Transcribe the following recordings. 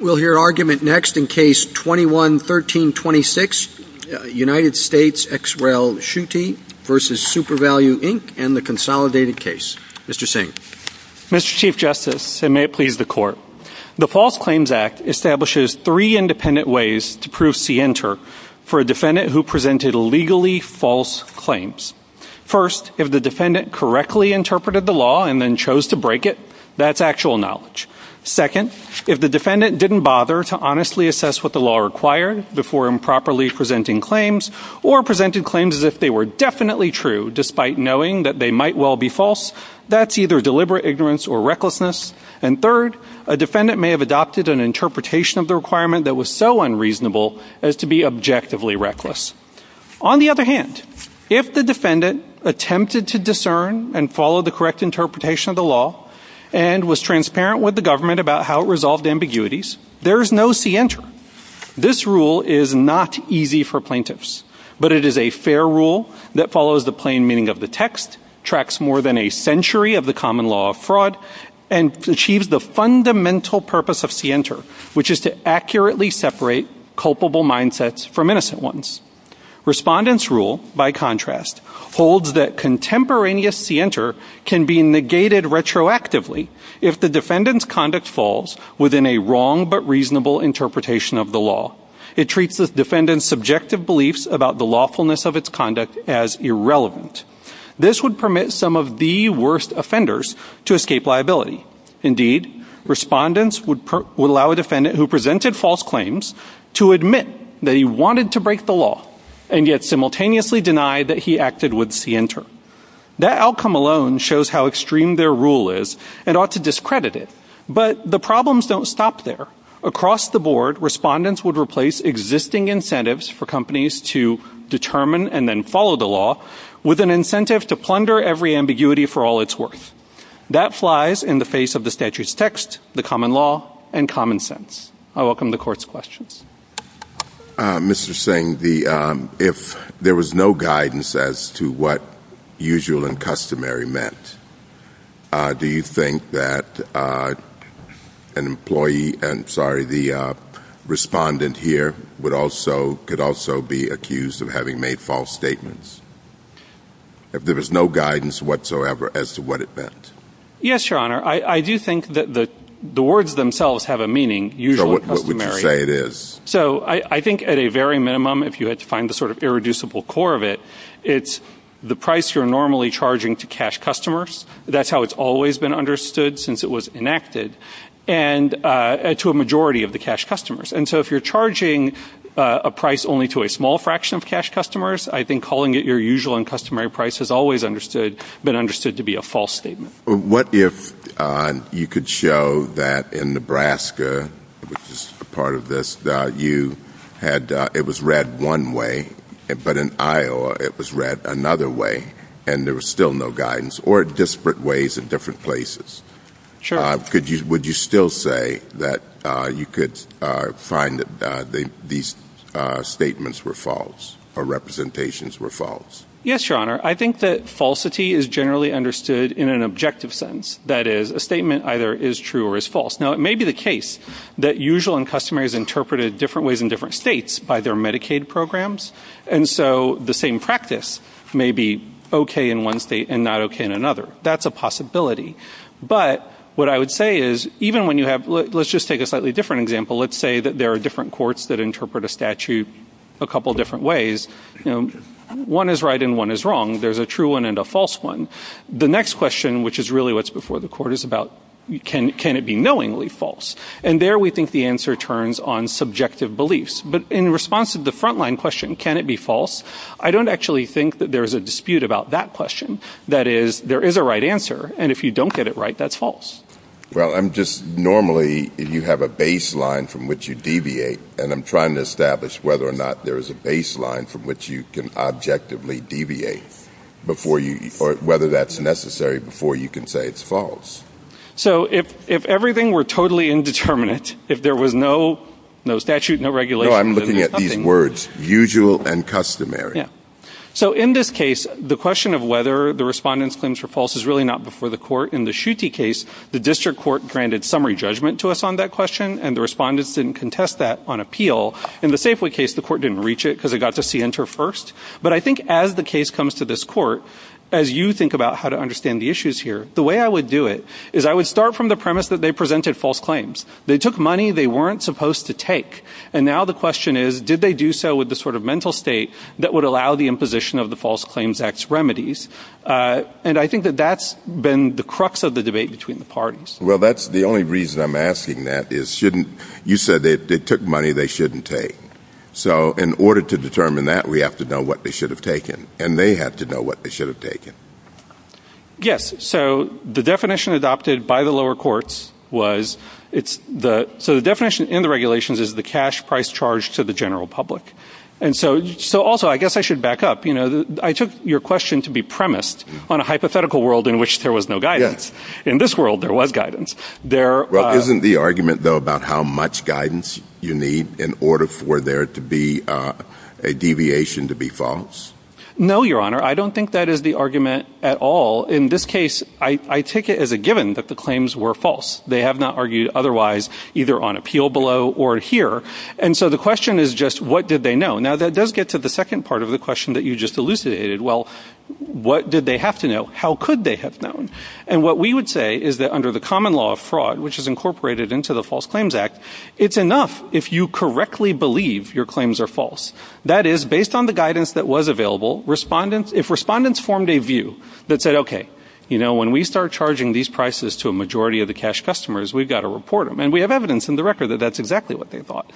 We'll hear argument next in Case 21-1326, United States, ex rel. Schutte v. SuperValu Inc. and the consolidated case. Mr. Singh. Mr. Chief Justice, and may it please the Court, the False Claims Act establishes three independent ways to prove scienter for a defendant who presented legally false claims. First, if the defendant correctly interpreted the law and then chose to break it, that's actual knowledge. Second, if the defendant didn't bother to honestly assess what the law required before improperly presenting claims, or presented claims as if they were definitely true despite knowing that they might well be false, that's either deliberate ignorance or recklessness. And third, a defendant may have adopted an interpretation of the requirement that was so unreasonable as to be objectively reckless. On the other hand, if the defendant attempted to discern and follow the correct interpretation of the law, and was transparent with the government about how it resolved ambiguities, there is no scienter. This rule is not easy for plaintiffs, but it is a fair rule that follows the plain meaning of the text, tracks more than a century of the common law of fraud, and achieves the fundamental purpose of scienter, which is to accurately separate culpable mindsets from innocent ones. Respondent's rule, by contrast, holds that contemporaneous scienter can be negated retroactively if the defendant's conduct falls within a wrong but reasonable interpretation of the law. It treats the defendant's subjective beliefs about the lawfulness of its conduct as irrelevant. This would permit some of the worst offenders to escape liability. Indeed, respondents would allow a defendant who presented false claims to admit they wanted to break the law, and yet simultaneously deny that he acted with scienter. That outcome alone shows how extreme their rule is and ought to discredit it. But the problems don't stop there. Across the board, respondents would replace existing incentives for companies to determine and then follow the law with an incentive to plunder every ambiguity for all it's worth. That flies in the face of the statute's text, the common law, and common sense. I welcome the court's questions. Mr. Singh, if there was no guidance as to what usual and customary meant, do you think that an employee, I'm sorry, the respondent here could also be accused of having made false statements? If there is no guidance whatsoever as to what it meant? Yes, Your Honor. I do think that the words themselves have a meaning, usual and customary. So what would you say it is? So I think at a very minimum, if you had to find the sort of irreducible core of it, it's the price you're normally charging to cash customers. That's how it's always been understood since it was enacted, and to a majority of the cash customers. And so if you're charging a price only to a small fraction of cash customers, I think calling it your usual and customary price has always been understood to be a false statement. What if you could show that in Nebraska, which is part of this, it was read one way, but in Iowa it was read another way and there was still no guidance, or disparate ways in different places? Sure. Would you still say that you could find that these statements were false or representations were false? Yes, Your Honor. I think that falsity is generally understood in an objective sense. That is, a statement either is true or is false. Now, it may be the case that usual and customary is interpreted different ways in different states by their Medicaid programs, and so the same practice may be okay in one state and not okay in another. That's a possibility. But what I would say is, let's just take a slightly different example. Let's say that there are different courts that interpret a statute a couple different ways. One is right and one is wrong. There's a true one and a false one. The next question, which is really what's before the court, is about can it be knowingly false? And there we think the answer turns on subjective beliefs. But in response to the frontline question, can it be false, I don't actually think that there's a dispute about that question. That is, there is a right answer, and if you don't get it right, that's false. Well, I'm just, normally you have a baseline from which you deviate, and I'm trying to establish whether or not there is a baseline from which you can objectively deviate before you, or whether that's necessary before you can say it's false. So if everything were totally indeterminate, if there was no statute, no regulation, No, I'm looking at these words, usual and customary. So in this case, the question of whether the respondent's claims were false is really not before the court. In the Schutte case, the district court granted summary judgment to us on that question, and the respondents didn't contest that on appeal. In the Safeway case, the court didn't reach it because it got to see enter first. But I think as the case comes to this court, as you think about how to understand the issues here, the way I would do it is I would start from the premise that they presented false claims. They took money they weren't supposed to take. And now the question is, did they do so with the sort of mental state that would allow the imposition of the False Claims Act's remedies? And I think that that's been the crux of the debate between the parties. Well, that's the only reason I'm asking that is shouldn't you said they took money they shouldn't take. So in order to determine that, we have to know what they should have taken. And they have to know what they should have taken. Yes. So the definition adopted by the lower courts was it's the so the definition in the regulations is the cash price charged to the general public. And so so also, I guess I should back up. You know, I took your question to be premised on a hypothetical world in which there was no guidance. In this world, there was guidance there. Isn't the argument, though, about how much guidance you need in order for there to be a deviation to be false? No, Your Honor. I don't think that is the argument at all. In this case, I take it as a given that the claims were false. They have not argued otherwise, either on appeal below or here. And so the question is just what did they know? Now, that does get to the second part of the question that you just elucidated. Well, what did they have to know? How could they have known? And what we would say is that under the common law of fraud, which is incorporated into the False Claims Act, it's enough if you correctly believe your claims are false. That is, based on the guidance that was available, if respondents formed a view that said, OK, you know, when we start charging these prices to a majority of the cash customers, we've got to report them. And we have evidence in the record that that's exactly what they thought.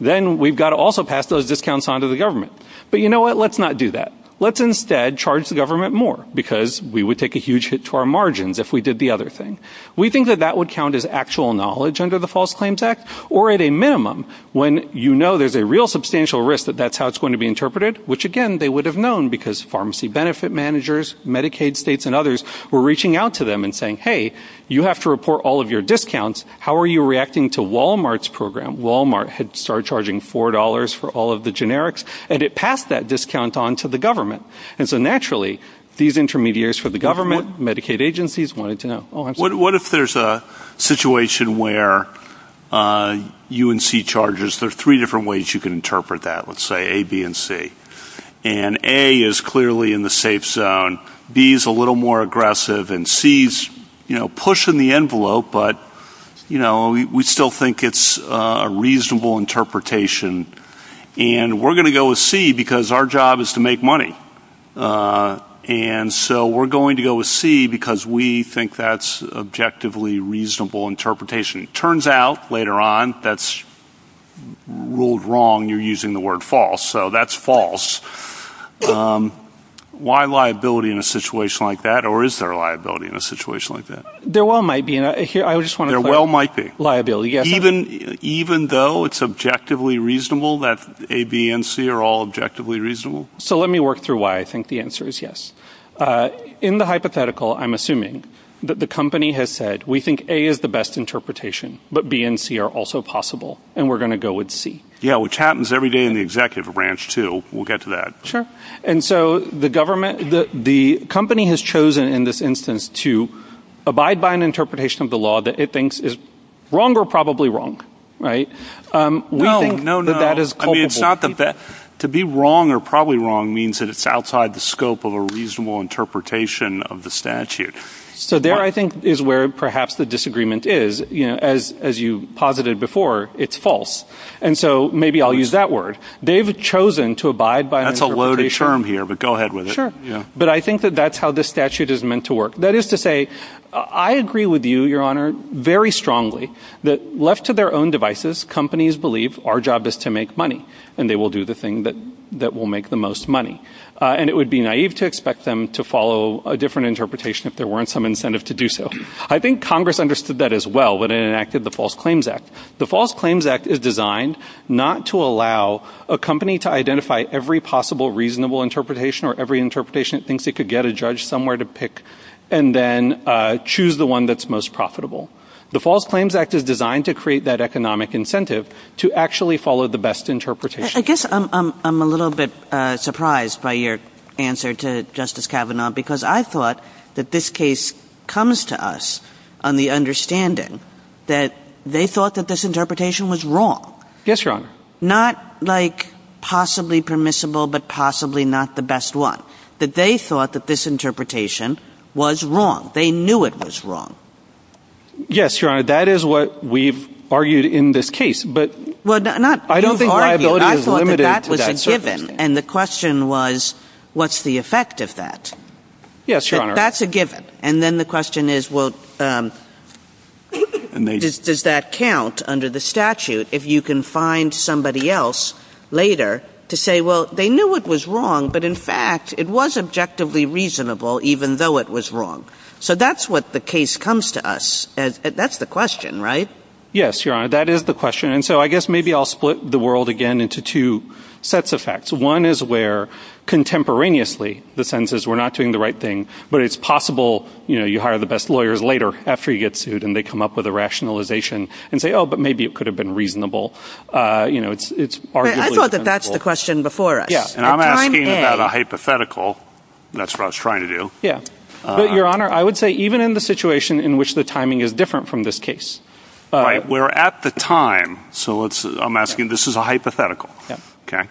Then we've got to also pass those discounts on to the government. But you know what? Let's not do that. Let's instead charge the government more because we would take a huge hit to our margins if we did the other thing. We think that that would count as actual knowledge under the False Claims Act or at a minimum when you know there's a real substantial risk that that's how it's going to be interpreted, which, again, they would have known because pharmacy benefit managers, Medicaid states and others were reaching out to them and saying, hey, you have to report all of your discounts. How are you reacting to Wal-Mart's program? Wal-Mart had started charging four dollars for all of the generics, and it passed that discount on to the government. And so naturally, these intermediaries for the government, Medicaid agencies wanted to know. What if there's a situation where you and C charges? There are three different ways you can interpret that, let's say, A, B, and C. And A is clearly in the safe zone. B is a little more aggressive. And C is, you know, pushing the envelope, but, you know, we still think it's a reasonable interpretation. And we're going to go with C because our job is to make money. And so we're going to go with C because we think that's objectively reasonable interpretation. It turns out later on that's ruled wrong. You're using the word false. So that's false. Why liability in a situation like that or is there a liability in a situation like that? There well might be. I just want to put liability. Even though it's objectively reasonable that A, B, and C are all objectively reasonable? So let me work through why I think the answer is yes. In the hypothetical, I'm assuming that the company has said we think A is the best interpretation, but B and C are also possible. And we're going to go with C. Yeah, which happens every day in the executive branch, too. We'll get to that. Sure. And so the company has chosen in this instance to abide by an interpretation of the law that it thinks is wrong or probably wrong, right? We think that that is culpable. To be wrong or probably wrong means that it's outside the scope of a reasonable interpretation of the statute. So there, I think, is where perhaps the disagreement is. As you posited before, it's false. And so maybe I'll use that word. They've chosen to abide by an interpretation. That's a loaded term here, but go ahead with it. Sure. But I think that that's how this statute is meant to work. That is to say, I agree with you, Your Honor, very strongly that left to their own devices, companies believe our job is to make money. And they will do the thing that will make the most money. And it would be naive to expect them to follow a different interpretation if there weren't some incentive to do so. I think Congress understood that as well when it enacted the False Claims Act. The False Claims Act is designed not to allow a company to identify every possible reasonable interpretation or every interpretation it thinks it could get a judge somewhere to pick and then choose the one that's most profitable. The False Claims Act is designed to create that economic incentive to actually follow the best interpretation. I guess I'm a little bit surprised by your answer to Justice Kavanaugh because I thought that this case comes to us on the understanding that they thought that this interpretation was wrong. Yes, Your Honor. Not like possibly permissible but possibly not the best one. That they thought that this interpretation was wrong. They knew it was wrong. Yes, Your Honor. That is what we've argued in this case. I don't think my ability is limited to that. I thought that was a given. And the question was, what's the effect of that? Yes, Your Honor. That's a given. And then the question is, well, does that count under the statute if you can find somebody else later to say, well, they knew it was wrong but in fact it was objectively reasonable even though it was wrong. So that's what the case comes to us. That's the question, right? Yes, Your Honor. That is the question. And so I guess maybe I'll split the world again into two sets of facts. One is where contemporaneously the sentence is we're not doing the right thing but it's possible, you know, you hire the best lawyers later after you get sued and they come up with a rationalization and say, oh, but maybe it could have been reasonable. You know, it's arguably reasonable. I thought that that's the question before us. Yeah, and I'm asking about a hypothetical. That's what I was trying to do. Yeah. But, Your Honor, I would say even in the situation in which the timing is different from this case. Right, where at the time, so I'm asking, this is a hypothetical, okay?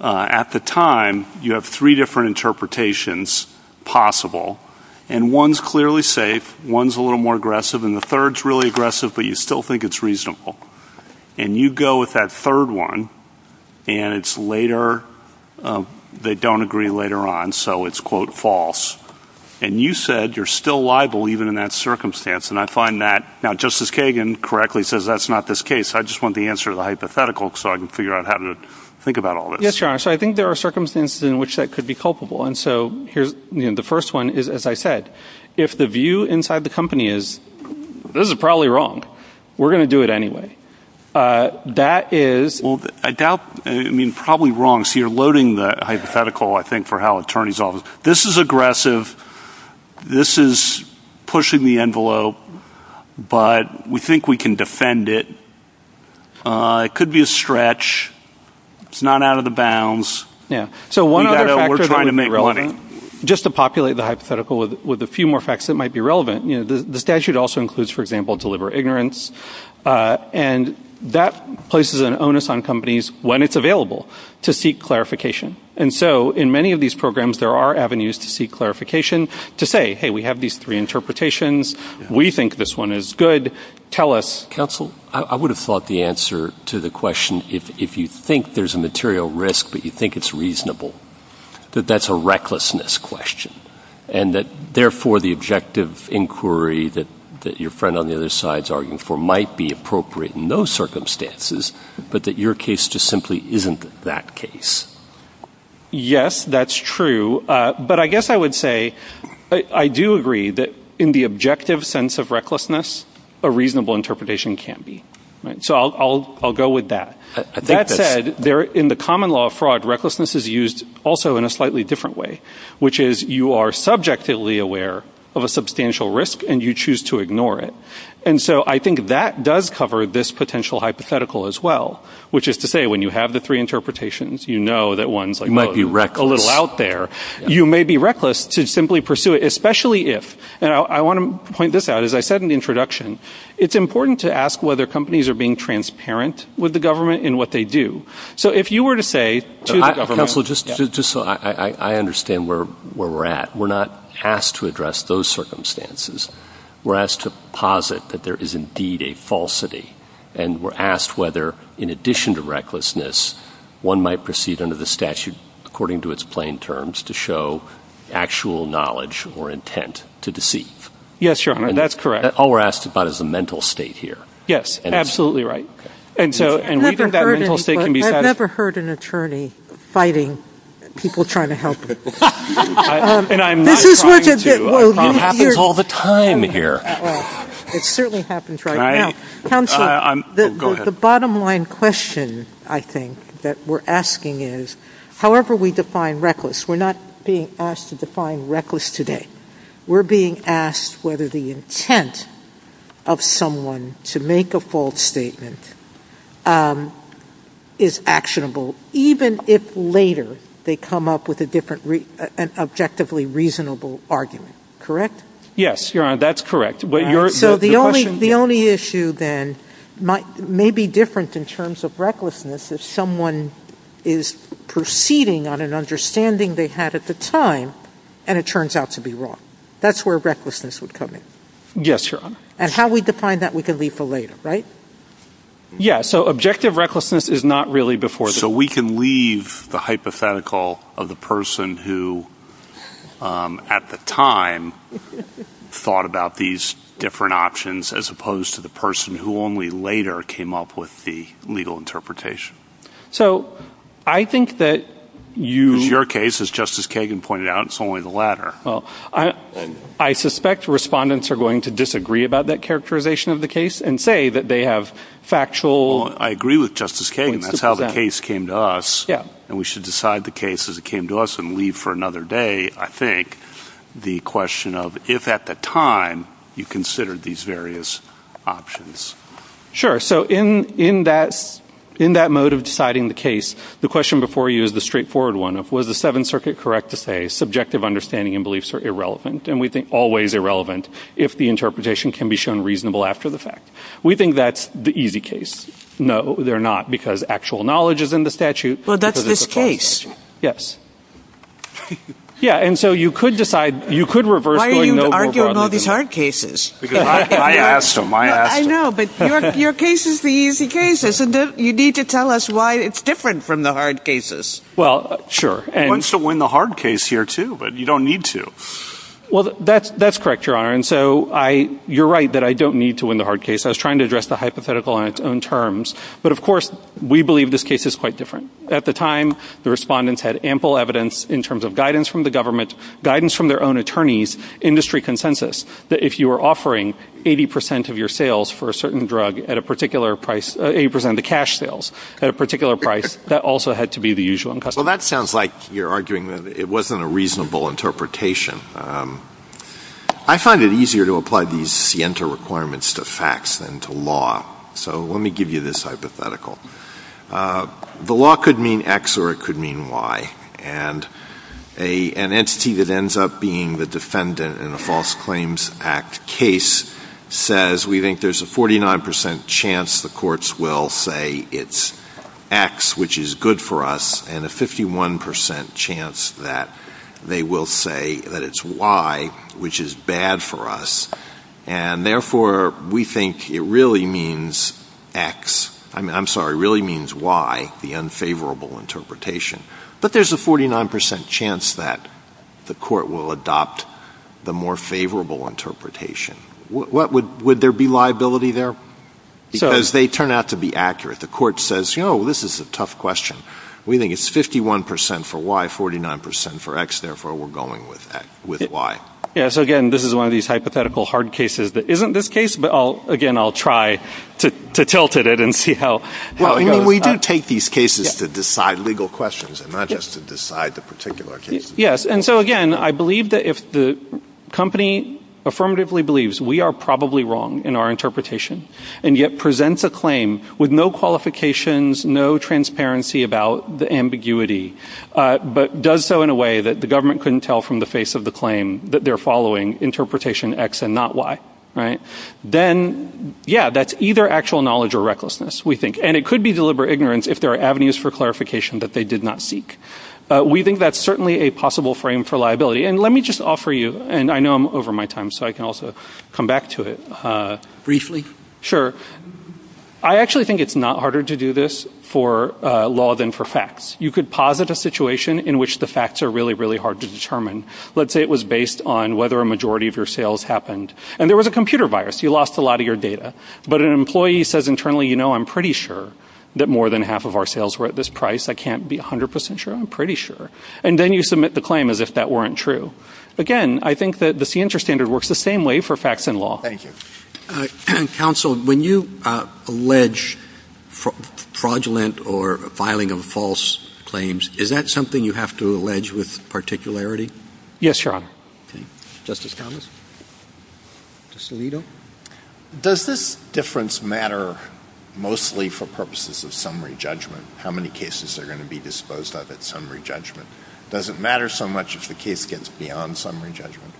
At the time, you have three different interpretations possible, and one's clearly safe, one's a little more aggressive, and the third's really aggressive but you still think it's reasonable. And you go with that third one and it's later, they don't agree later on, so it's, quote, false. And you said you're still liable even in that circumstance. And I find that, now Justice Kagan correctly says that's not this case. I just want the answer to the hypothetical so I can figure out how to think about all this. Yes, Your Honor. So I think there are circumstances in which that could be culpable. And so here, you know, the first one is, as I said, if the view inside the company is this is probably wrong, we're going to do it anyway. That is. Well, I doubt, I mean, probably wrong. So you're loading the hypothetical, I think, for how attorneys often. So this is aggressive, this is pushing the envelope, but we think we can defend it. It could be a stretch. It's not out of the bounds. Yeah. So one other factor that would be relevant, just to populate the hypothetical with a few more facts that might be relevant, you know, the statute also includes, for example, deliver ignorance. And that places an onus on companies when it's available to seek clarification. And so in many of these programs, there are avenues to seek clarification to say, hey, we have these three interpretations. We think this one is good. Tell us. Counsel, I would have thought the answer to the question, if you think there's a material risk but you think it's reasonable, that that's a recklessness question and that, therefore, the objective inquiry that your friend on the other side is arguing for might be appropriate in those circumstances, but that your case just simply isn't that case. Yes, that's true. But I guess I would say I do agree that in the objective sense of recklessness, a reasonable interpretation can't be. So I'll go with that. That said, in the common law of fraud, recklessness is used also in a slightly different way, which is you are subjectively aware of a substantial risk and you choose to ignore it. And so I think that does cover this potential hypothetical as well, which is to say when you have the three interpretations, you know that one might be a little out there. You may be reckless to simply pursue it, especially if. And I want to point this out. As I said in the introduction, it's important to ask whether companies are being transparent with the government in what they do. So if you were to say, just so I understand where we're at, we're not asked to address those circumstances. We're asked to posit that there is indeed a falsity. And we're asked whether, in addition to recklessness, one might proceed under the statute, according to its plain terms, to show actual knowledge or intent to deceive. Yes, Your Honor, that's correct. All we're asked about is a mental state here. Yes, absolutely right. I've never heard an attorney fighting people trying to help you. And I'm not trying to. It happens all the time here. It certainly happens right now. The bottom line question, I think, that we're asking is, however we define reckless, we're not being asked to define reckless today. We're being asked whether the intent of someone to make a false statement is actionable, even if later they come up with an objectively reasonable argument, correct? Yes, Your Honor, that's correct. So the only issue then may be different in terms of recklessness if someone is proceeding on an understanding they had at the time and it turns out to be wrong. That's where recklessness would come in. Yes, Your Honor. And how we define that we can leave for later, right? Yes, so objective recklessness is not really before the court. So we can leave the hypothetical of the person who at the time thought about these different options as opposed to the person who only later came up with the legal interpretation. So I think that you... It's your case, as Justice Kagan pointed out. It's only the latter. I suspect respondents are going to disagree about that characterization of the case and say that they have factual... I agree with Justice Kagan. That's how the case came to us. Yes. And we should decide the case as it came to us and leave for another day, I think, the question of if at the time you considered these various options. Sure. So in that mode of deciding the case, the question before you is the straightforward one of was the Seventh Circuit correct to say subjective understanding and beliefs are irrelevant and we think always irrelevant if the interpretation can be shown reasonable after the fact. We think that's the easy case. No, they're not because actual knowledge is in the statute. Well, that's this case. Yes. Yeah, and so you could decide... Why are you arguing all these hard cases? I asked them. I know, but your case is the easy case. You need to tell us why it's different from the hard cases. Well, sure. I want you to win the hard case here too, but you don't need to. Well, that's correct, Your Honor. And so you're right that I don't need to win the hard case. I was trying to address the hypothetical on its own terms. But, of course, we believe this case is quite different. At the time, the respondents had ample evidence in terms of guidance from the government, guidance from their own attorneys, industry consensus, that if you were offering 80% of your sales for a certain drug at a particular price, 80% of the cash sales at a particular price, that also had to be the usual income. Well, that sounds like you're arguing that it wasn't a reasonable interpretation. I find it easier to apply these scienter requirements to facts than to law. So let me give you this hypothetical. The law could mean X or it could mean Y. And an entity that ends up being the defendant in a False Claims Act case says, we think there's a 49% chance the courts will say it's X, which is good for us, and a 51% chance that they will say that it's Y, which is bad for us. And, therefore, we think it really means Y, the unfavorable interpretation. But there's a 49% chance that the court will adopt the more favorable interpretation. Would there be liability there? Because they turn out to be accurate. The court says, you know, this is a tough question. We think it's 51% for Y, 49% for X, therefore we're going with Y. Yes, again, this is one of these hypothetical hard cases that isn't this case, but, again, I'll try to tilt it and see how it goes. Well, we do take these cases to decide legal questions and not just to decide the particular case. Yes, and so, again, I believe that if the company affirmatively believes we are probably wrong in our interpretation and yet presents a claim with no qualifications, no transparency about the ambiguity, but does so in a way that the government couldn't tell from the face of the claim that they're following, interpretation X and not Y, then, yeah, that's either actual knowledge or recklessness, we think. And it could be deliberate ignorance if there are avenues for clarification that they did not seek. We think that's certainly a possible frame for liability. And let me just offer you, and I know I'm over my time, so I can also come back to it briefly. Sure. I actually think it's not harder to do this for law than for facts. You could posit a situation in which the facts are really, really hard to determine. Let's say it was based on whether a majority of your sales happened. And there was a computer virus. You lost a lot of your data. But an employee says internally, you know, I'm pretty sure that more than half of our sales were at this price. I can't be 100 percent sure. I'm pretty sure. And then you submit the claim as if that weren't true. Again, I think that the CINTRA standard works the same way for facts and law. Thank you. Counsel, when you allege fraudulent or filing of false claims, is that something you have to allege with particularity? Yes, Your Honor. Okay. Justice Thomas? Justice Alito? Does this difference matter mostly for purposes of summary judgment? How many cases are going to be disposed of at summary judgment? Does it matter so much if the case gets beyond summary judgment?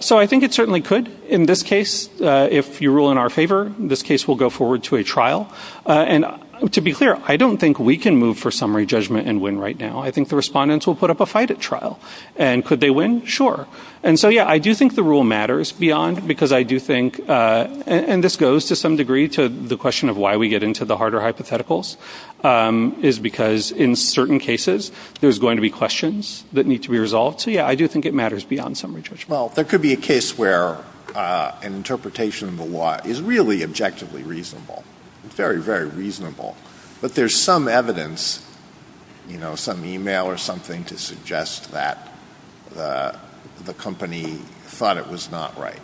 So I think it certainly could. In this case, if you rule in our favor, this case will go forward to a trial. And to be clear, I don't think we can move for summary judgment and win right now. I think the respondents will put up a fight at trial. And could they win? Sure. And so, yeah, I do think the rule matters beyond because I do think, and this goes to some degree to the question of why we get into the harder hypotheticals, is because in certain cases there's going to be questions that need to be resolved. So, yeah, I do think it matters beyond summary judgment. Well, there could be a case where an interpretation of the law is really objectively reasonable, very, very reasonable. But there's some evidence, you know, some e-mail or something to suggest that the company thought it was not right.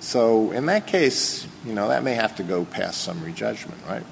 So in that case, you know, that may have to go past summary judgment, right?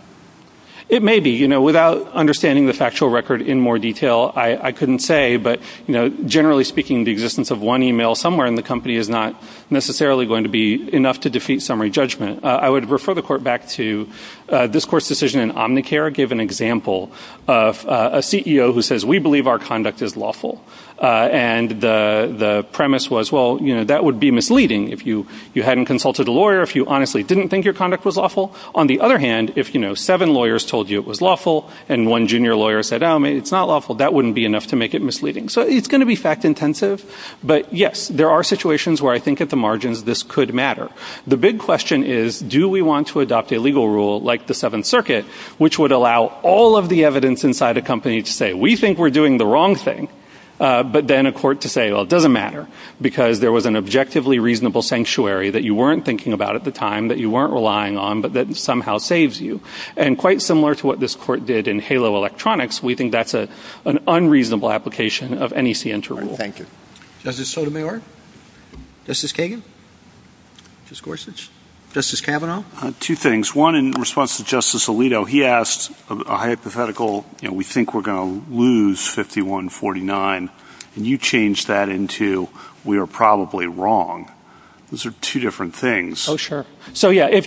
It may be. You know, without understanding the factual record in more detail, I couldn't say. But, you know, generally speaking, the existence of one e-mail somewhere in the company is not necessarily going to be enough to defeat summary judgment. I would refer the court back to this court's decision in Omnicare. It gave an example of a CEO who says, we believe our conduct is lawful. And the premise was, well, you know, that would be misleading if you hadn't consulted a lawyer, if you honestly didn't think your conduct was lawful. On the other hand, if, you know, seven lawyers told you it was lawful and one junior lawyer said, oh, it's not lawful, that wouldn't be enough to make it misleading. So it's going to be fact intensive. But, yes, there are situations where I think at the margins this could matter. The big question is, do we want to adopt a legal rule like the Seventh Circuit, which would allow all of the evidence inside a company to say, we think we're doing the wrong thing. But then a court to say, well, it doesn't matter, because there was an objectively reasonable sanctuary that you weren't thinking about at the time, that you weren't relying on, but that somehow saves you. And quite similar to what this court did in Halo Electronics, we think that's an unreasonable application of NEC inter-rule. Thank you. Justice Sotomayor? Justice Kagan? Justice Gorsuch? Justice Kavanaugh? Two things. One, in response to Justice Alito, he asked a hypothetical, you know, we think we're going to lose 51-49. And you changed that into, we are probably wrong. Those are two different things. Oh, sure. So, yeah,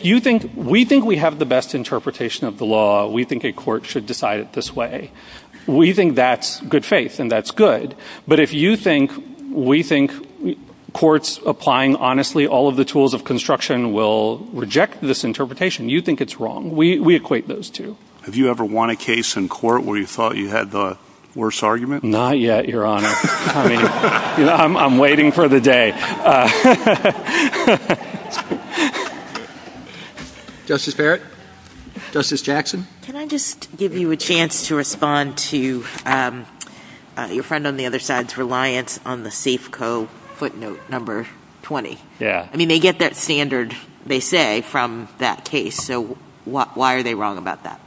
we think we have the best interpretation of the law. We think a court should decide it this way. We think that's good faith, and that's good. But if you think we think courts applying honestly all of the tools of construction will reject this interpretation, you think it's wrong. We equate those two. Have you ever won a case in court where you thought you had the worst argument? Not yet, Your Honor. I mean, I'm waiting for the day. Justice Barrett? Justice Jackson? Can I just give you a chance to respond to your friend on the other side's reliance on the Safeco footnote number 20? Yeah. I mean, they get that standard, they say, from that case. So why are they wrong about that?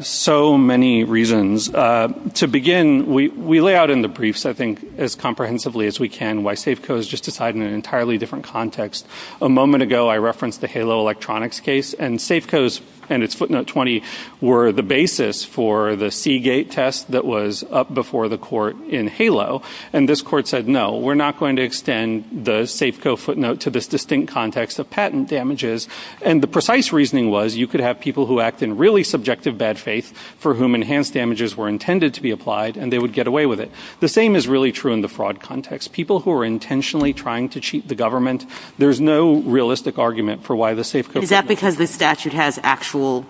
So many reasons. To begin, we lay out in the briefs, I think, as comprehensively as we can why Safeco is just decided in an entirely different context. A moment ago, I referenced the Halo Electronics case, and Safeco's and its footnote 20 were the basis for the Seagate test that was up before the court in Halo. And this court said, no, we're not going to extend the Safeco footnote to this distinct context of patent damages. And the precise reasoning was you could have people who act in really subjective bad faith for whom enhanced damages were intended to be applied, and they would get away with it. The same is really true in the fraud context. People who are intentionally trying to cheat the government, there's no realistic argument for why the Safeco footnote... Is that because the statute has actual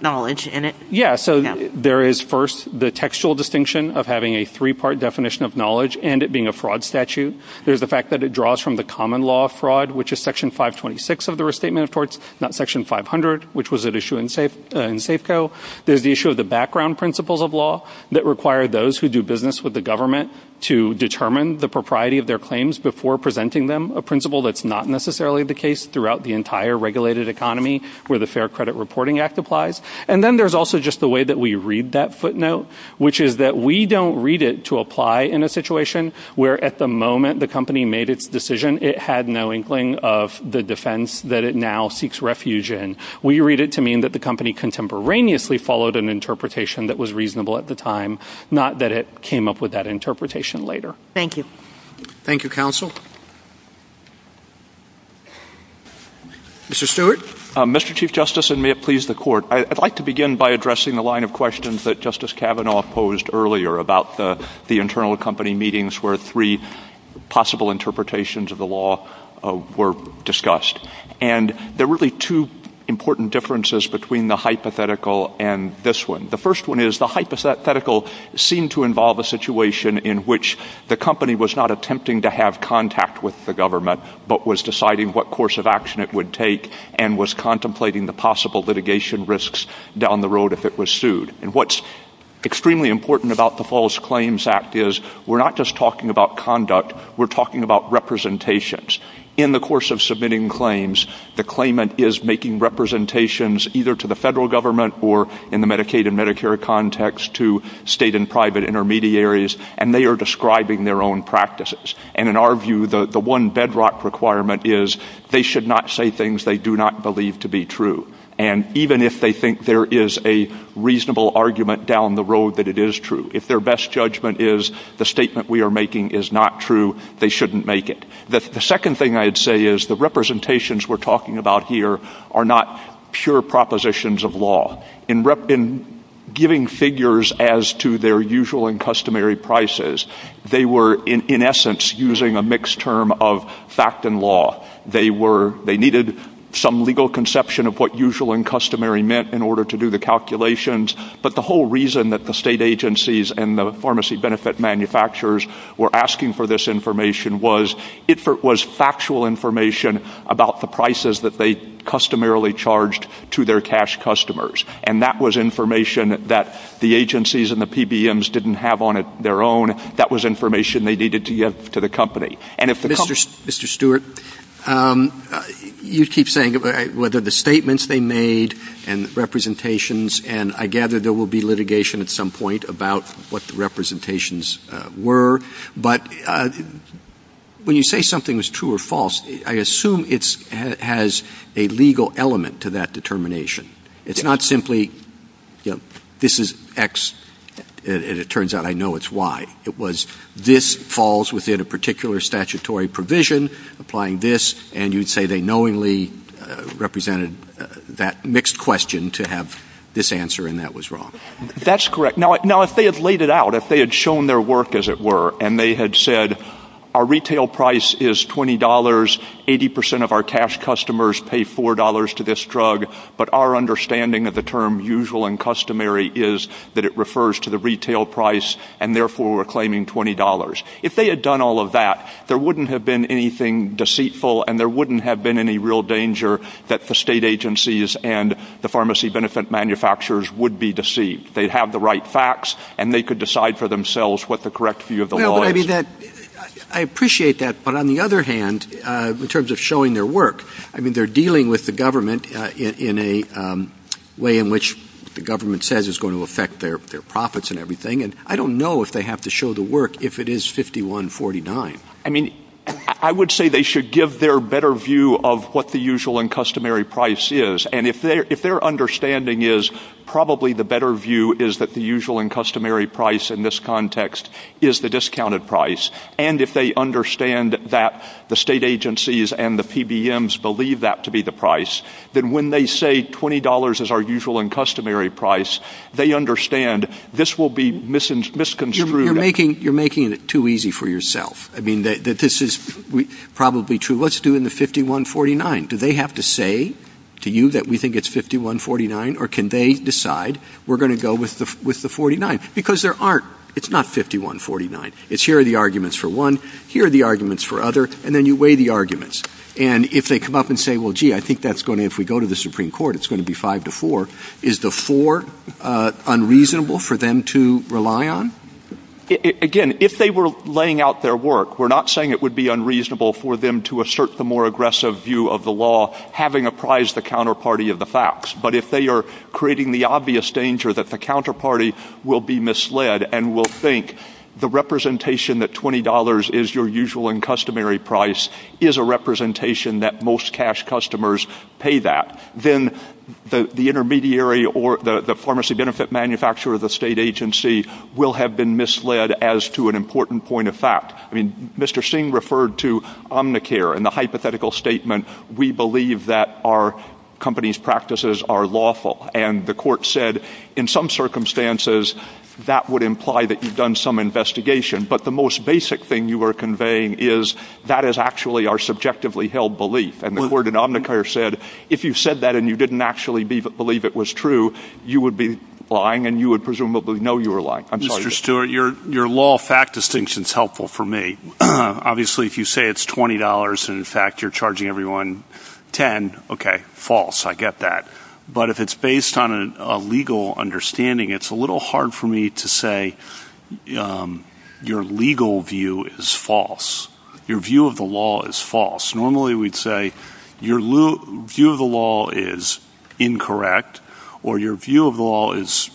knowledge in it? Yeah. So there is, first, the textual distinction of having a three-part definition of knowledge and it being a fraud statute. There's the fact that it draws from the common law of fraud, which is Section 526 of the Restatement Reports, not Section 500, which was at issue in Safeco. There's the issue of the background principles of law that require those who do business with the government to determine the propriety of their claims before presenting them, a principle that's not necessarily the case throughout the entire regulated economy where the Fair Credit Reporting Act applies. And then there's also just the way that we read that footnote, which is that we don't read it to apply in a situation where at the moment the company made its decision, it had no inkling of the defense that it now seeks refuge in. We read it to mean that the company contemporaneously followed an interpretation that was reasonable at the time, not that it came up with that interpretation later. Thank you. Thank you, Counsel. Mr. Stewart? Mr. Chief Justice, and may it please the Court, I'd like to begin by addressing the line of questions that Justice Kavanaugh posed earlier about the internal company meetings where three possible interpretations of the law were discussed. And there are really two important differences between the hypothetical and this one. The first one is the hypothetical seemed to involve a situation in which the company was not attempting to have contact with the government but was deciding what course of action it would take and was contemplating the possible litigation risks down the road if it was sued. And what's extremely important about the False Claims Act is we're not just talking about conduct, we're talking about representations. In the course of submitting claims, the claimant is making representations either to the federal government or in the Medicaid and Medicare context to state and private intermediaries, and they are describing their own practices. And in our view, the one bedrock requirement is they should not say things they do not believe to be true. And even if they think there is a reasonable argument down the road that it is true, if their best judgment is the statement we are making is not true, they shouldn't make it. The second thing I would say is the representations we're talking about here are not pure propositions of law. In giving figures as to their usual and customary prices, they were in essence using a mixed term of fact and law. They needed some legal conception of what usual and customary meant in order to do the calculations. But the whole reason that the state agencies and the pharmacy benefit manufacturers were asking for this information was it was factual information about the prices that they customarily charged to their cash customers. And that was information that the agencies and the PBMs didn't have on their own. That was information they needed to give to the company. Mr. Stewart, you keep saying whether the statements they made and representations, and I gather there will be litigation at some point about what the representations were. But when you say something is true or false, I assume it has a legal element to that determination. It's not simply this is X and it turns out I know it's Y. It was this falls within a particular statutory provision, applying this, and you'd say they knowingly represented that mixed question to have this answer and that was wrong. That's correct. Now if they had laid it out, if they had shown their work as it were, and they had said our retail price is $20, 80% of our cash customers pay $4 to this drug, but our understanding of the term usual and customary is that it refers to the retail price and therefore we're claiming $20. If they had done all of that, there wouldn't have been anything deceitful and there wouldn't have been any real danger that the state agencies and the pharmacy benefit manufacturers would be deceived. They'd have the right facts and they could decide for themselves what the correct view of the law is. I appreciate that, but on the other hand, in terms of showing their work, I mean they're dealing with the government in a way in which the government says is going to affect their profits and everything, and I don't know if they have to show the work if it is $51.49. I would say they should give their better view of what the usual and customary price is, and if their understanding is probably the better view is that the usual and customary price in this context is the discounted price, and if they understand that the state agencies and the PBMs believe that to be the price, then when they say $20 is our usual and customary price, they understand this will be misconstrued. You're making it too easy for yourself. This is probably true. Let's do it in the $51.49. Do they have to say to you that we think it's $51.49, or can they decide we're going to go with the $49? Because there aren't. It's not $51.49. It's here are the arguments for one, here are the arguments for other, and then you weigh the arguments. And if they come up and say, well, gee, I think if we go to the Supreme Court it's going to be five to four, is the four unreasonable for them to rely on? If they have to say to you that most cash customers pay that, then the intermediary or the pharmacy benefit manufacturer of the state agency will have been misled as to an important point of fact. I mean, Mr. Singh referred to Omnicare and the hypothetical statement, we believe that our company's practices are lawful. And the court said, in some circumstances, that would imply that you've done some investigation. But the most basic thing you are conveying is that is actually our subjectively held belief. And the court in Omnicare said, if you said that and you didn't actually believe it was true, you would be lying and you would presumably know you were lying. Mr. Stewart, your law fact distinction is helpful for me. Obviously, if you say it's $20 and in fact you're charging everyone $10, okay, false, I get that. But if it's based on a legal understanding, it's a little hard for me to say your legal view is false. Your view of the law is false. Normally, we'd say your view of the law is incorrect or your view of the law is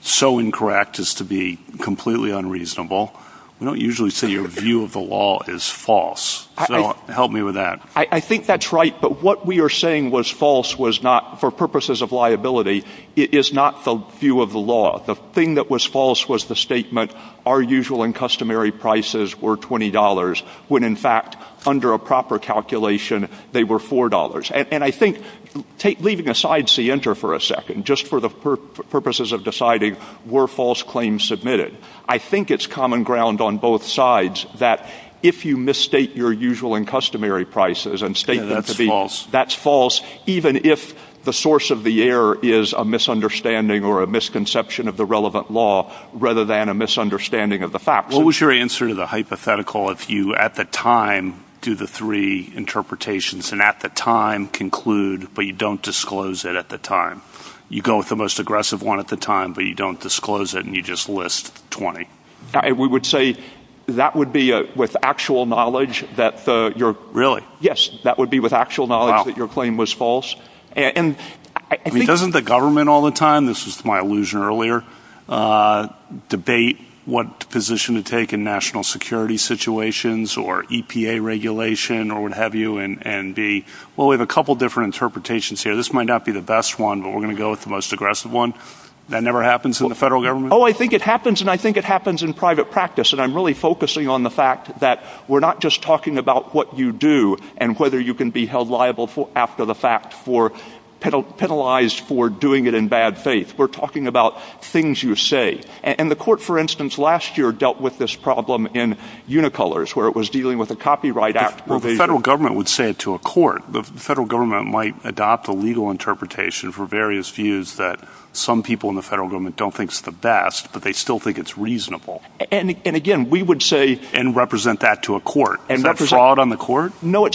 so incorrect as to be completely unreasonable. We don't usually say your view of the law is false. So help me with that. I think that's right. But what we are saying was false was not, for purposes of liability, is not the view of the law. The thing that was false was the statement, our usual and customary prices were $20, when in fact, under a proper calculation, they were $4. And I think, leaving aside Sienta for a second, just for the purposes of deciding, were false claims submitted? I think it's common ground on both sides that if you misstate your usual and customary prices and state that's false, even if the source of the error is a misunderstanding or a misconception of the relevant law rather than a misunderstanding of the facts. What was your answer to the hypothetical if you, at the time, do the three interpretations and at the time conclude but you don't disclose it at the time? You go with the most aggressive one at the time but you don't disclose it and you just list 20. We would say that would be with actual knowledge that your claim was false. Doesn't the government all the time, this was my illusion earlier, debate what position to take in national security situations or EPA regulation or what have you? Well, we have a couple different interpretations here. This might not be the best one but we're going to go with the most aggressive one. That never happens in the federal government? Oh, I think it happens and I think it happens in private practice and I'm really focusing on the fact that we're not just talking about what you do and whether you can be held liable after the fact for penalized for doing it in bad faith. We're talking about things you say. And the court, for instance, last year dealt with this problem in Unicolors where it was dealing with a copyright act. Well, the federal government would say it to a court. The federal government might adopt a legal interpretation for various views that some people in the federal government don't think is the best but they still think it's reasonable. And again, we would say… And represent that to a court. Is that fraud on the court? I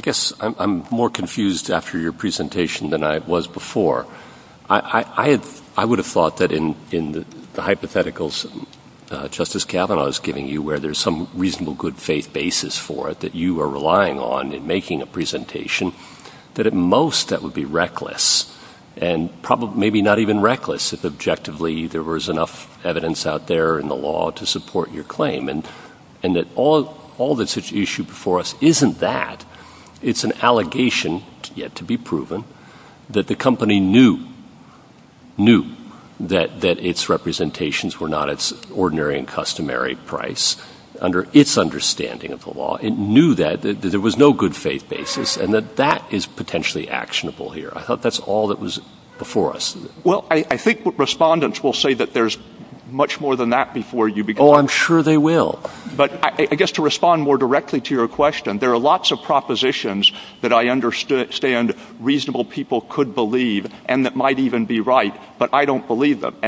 guess I'm more confused after your presentation than I was before. I would have thought that in the hypotheticals Justice Kavanaugh is giving you where there's some reasonable good faith basis for it that you are relying on in making a presentation, that at most that would be reckless. And maybe not even reckless if objectively there was enough evidence out there in the law to support your claim. And that all this issue before us isn't that. It's an allegation yet to be proven that the company knew that its representations were not its ordinary and customary price under its understanding of the law. It knew that there was no good faith basis and that that is potentially actionable here. I hope that's all that was before us. Well, I think respondents will say that there's much more than that before you. Oh, I'm sure they will. But I guess to respond more directly to your question, there are lots of propositions that I understand reasonable people could believe and that might even be right, but I don't believe them. Correct.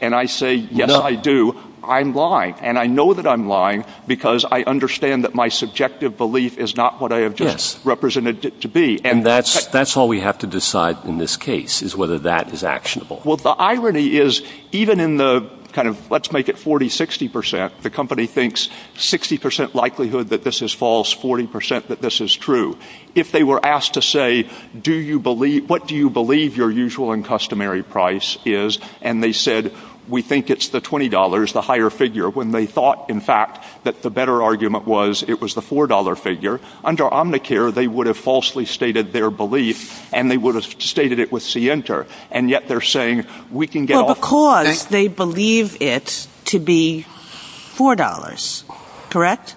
And I say, yes, I do. I'm lying. And I know that I'm lying because I understand that my subjective belief is not what I have just represented it to be. And that's all we have to decide in this case is whether that is actionable. Well, the irony is even in the kind of let's make it 40, 60 percent, the company thinks 60 percent likelihood that this is false, 40 percent that this is true. If they were asked to say, do you believe what do you believe your usual and customary price is? And they said, we think it's the twenty dollars, the higher figure when they thought, in fact, that the better argument was it was the four dollar figure. Under Omnicare, they would have falsely stated their belief and they would have stated it with C enter. And yet they're saying we can get off because they believe it to be four dollars. Correct.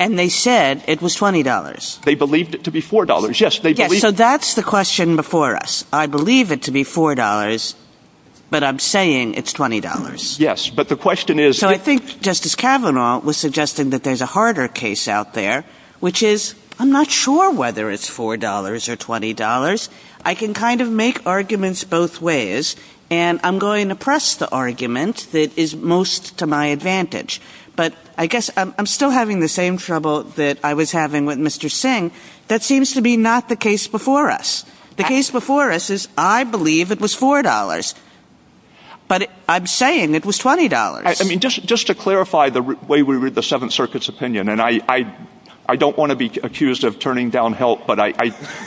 And they said it was twenty dollars. They believed it to be four dollars. Yes, they did. So that's the question before us. I believe it to be four dollars, but I'm saying it's twenty dollars. Yes, but the question is. So I think Justice Kavanaugh was suggesting that there's a harder case out there, which is I'm not sure whether it's four dollars or twenty dollars. I can kind of make arguments both ways and I'm going to press the argument that is most to my advantage. But I guess I'm still having the same trouble that I was having with Mr. Singh. That seems to be not the case before us. The case before us is I believe it was four dollars. But I'm saying it was twenty dollars. I mean, just just to clarify the way we read the Seventh Circuit's opinion. And I I don't want to be accused of turning down help, but I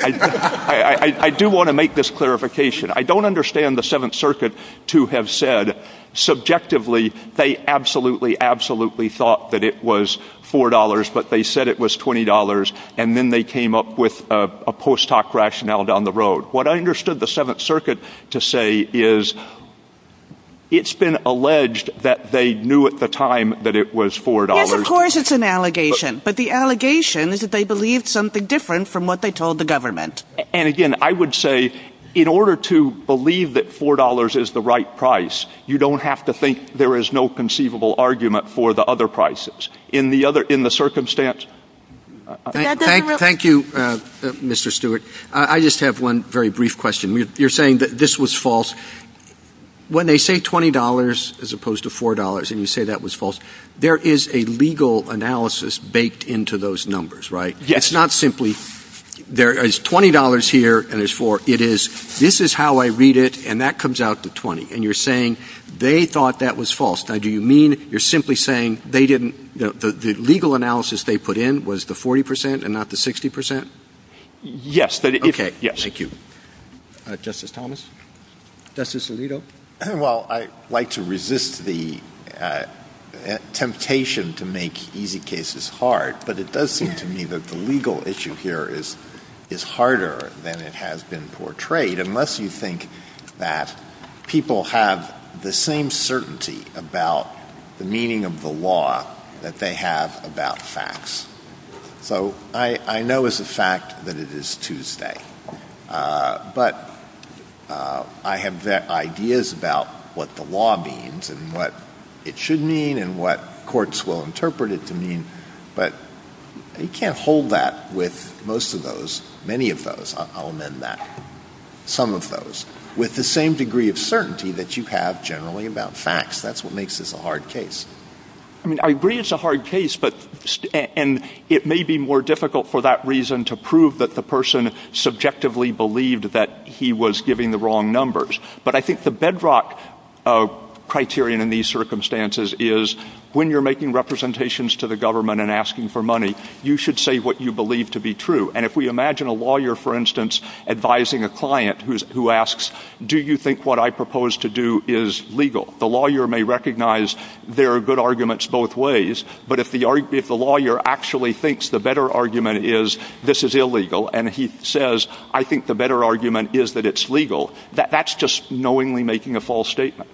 I do want to make this clarification. I don't understand the Seventh Circuit to have said subjectively. They absolutely, absolutely thought that it was four dollars, but they said it was twenty dollars. And then they came up with a post hoc rationale down the road. What I understood the Seventh Circuit to say is it's been alleged that they knew at the time that it was four dollars. Of course, it's an allegation. But the allegation is that they believe something different from what they told the government. And again, I would say in order to believe that four dollars is the right price, you don't have to think there is no conceivable argument for the other prices. In the other in the circumstance. Thank you, Mr. Stewart. I just have one very brief question. You're saying that this was false when they say twenty dollars as opposed to four dollars. And you say that was false. There is a legal analysis baked into those numbers. Right. It's not simply there is twenty dollars here and there's four. It is. This is how I read it. And that comes out to 20. And you're saying they thought that was false. Now, do you mean you're simply saying they didn't know the legal analysis they put in was the 40 percent and not the 60 percent? Yes. OK. Yes. Thank you. Justice Thomas. Justice Alito. Well, I like to resist the temptation to make easy cases hard. But it does seem to me that the legal issue here is is harder than it has been portrayed. Unless you think that people have the same certainty about the meaning of the law that they have about facts. So I know as a fact that it is Tuesday. But I have ideas about what the law means and what it should mean and what courts will interpret it to mean. But you can't hold that with most of those. Many of those. I'll amend that. Some of those with the same degree of certainty that you have generally about facts. That's what makes this a hard case. I mean, I agree it's a hard case, but and it may be more difficult for that reason to prove that the person subjectively believed that he was giving the wrong numbers. But I think the bedrock criterion in these circumstances is when you're making representations to the government and asking for money, you should say what you believe to be true. And if we imagine a lawyer, for instance, advising a client who asks, do you think what I propose to do is legal? The lawyer may recognize there are good arguments both ways. But if the lawyer actually thinks the better argument is this is illegal and he says, I think the better argument is that it's legal. That's just knowingly making a false statement.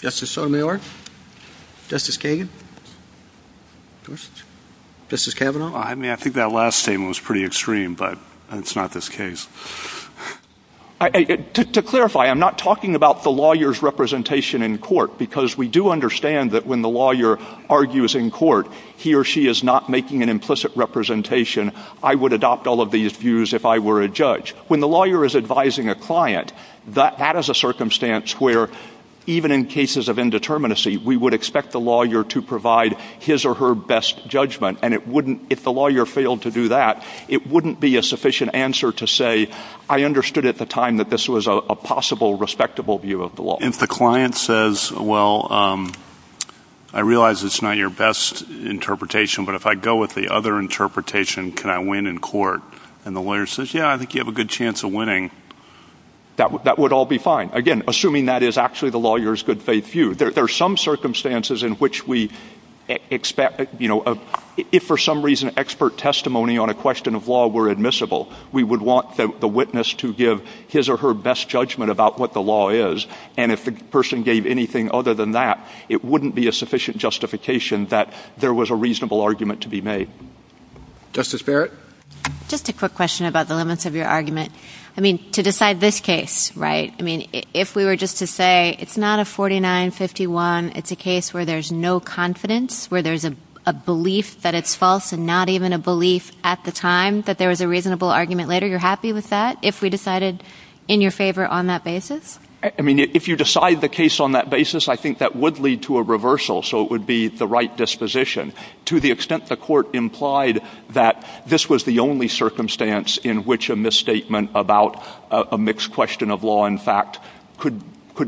Justice Sotomayor, Justice Kagan, Justice Kavanaugh. I mean, I think that last statement was pretty extreme, but it's not this case. To clarify, I'm not talking about the lawyer's representation in court because we do understand that when the lawyer argues in court, he or she is not making an implicit representation. I would adopt all of these views if I were a judge. But when the lawyer is advising a client, that is a circumstance where even in cases of indeterminacy, we would expect the lawyer to provide his or her best judgment. And if the lawyer failed to do that, it wouldn't be a sufficient answer to say, I understood at the time that this was a possible respectable view of the law. If the client says, well, I realize it's not your best interpretation, but if I go with the other interpretation, can I win in court? And the lawyer says, yeah, I think you have a good chance of winning. That would all be fine. Again, assuming that is actually the lawyer's good faith view. There are some circumstances in which we expect, you know, if for some reason expert testimony on a question of law were admissible, we would want the witness to give his or her best judgment about what the law is. And if the person gave anything other than that, it wouldn't be a sufficient justification that there was a reasonable argument to be made. Justice Barrett? Just a quick question about the limits of your argument. I mean, to decide this case, right, I mean, if we were just to say it's not a 49-51, it's a case where there's no confidence, where there's a belief that it's false and not even a belief at the time that there was a reasonable argument later, you're happy with that? If we decided in your favor on that basis? I mean, if you decide the case on that basis, I think that would lead to a reversal, so it would be the right disposition. To the extent the court implied that this was the only circumstance in which a misstatement about a mixed question of law and fact could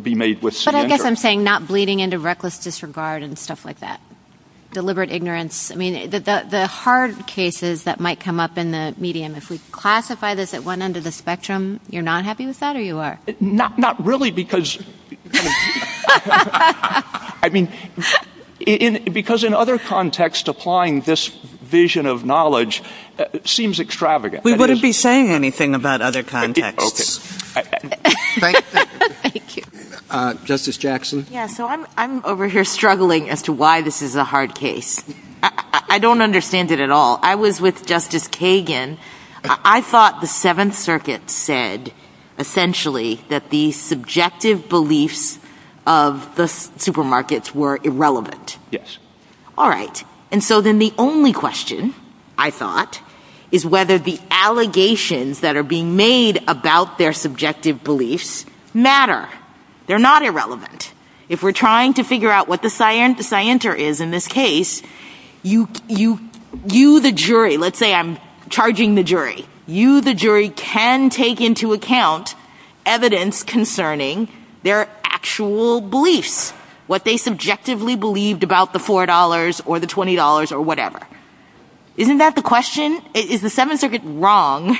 be made with surrender. I guess I'm saying not bleeding into reckless disregard and stuff like that, deliberate ignorance. I mean, the hard cases that might come up in the medium, if we classify this at one under the spectrum, you're not happy with that or you are? Not really, because, I mean, because in other contexts, applying this vision of knowledge seems extravagant. We wouldn't be saying anything about other contexts. Okay. Thank you. Justice Jackson? Yeah, so I'm over here struggling as to why this is a hard case. I don't understand it at all. I was with Justice Kagan. I thought the Seventh Circuit said, essentially, that the subjective beliefs of the supermarkets were irrelevant. Yes. All right. And so then the only question, I thought, is whether the allegations that are being made about their subjective beliefs matter. They're not irrelevant. If we're trying to figure out what the scienter is in this case, you, the jury, let's say I'm charging the jury. You, the jury, can take into account evidence concerning their actual beliefs, what they subjectively believed about the $4 or the $20 or whatever. Isn't that the question? Is the Seventh Circuit wrong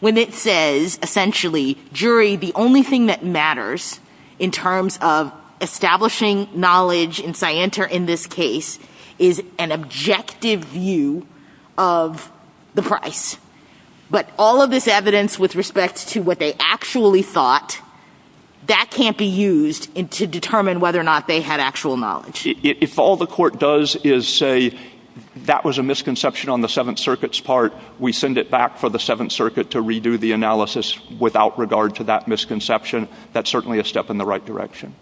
when it says, essentially, jury, the only thing that matters in terms of establishing knowledge and scienter in this case is an objective view of the price. But all of this evidence with respect to what they actually thought, that can't be used to determine whether or not they had actual knowledge. If all the court does is say that was a misconception on the Seventh Circuit's part, we send it back for the Seventh Circuit to redo the analysis without regard to that misconception, that's certainly a step in the right direction.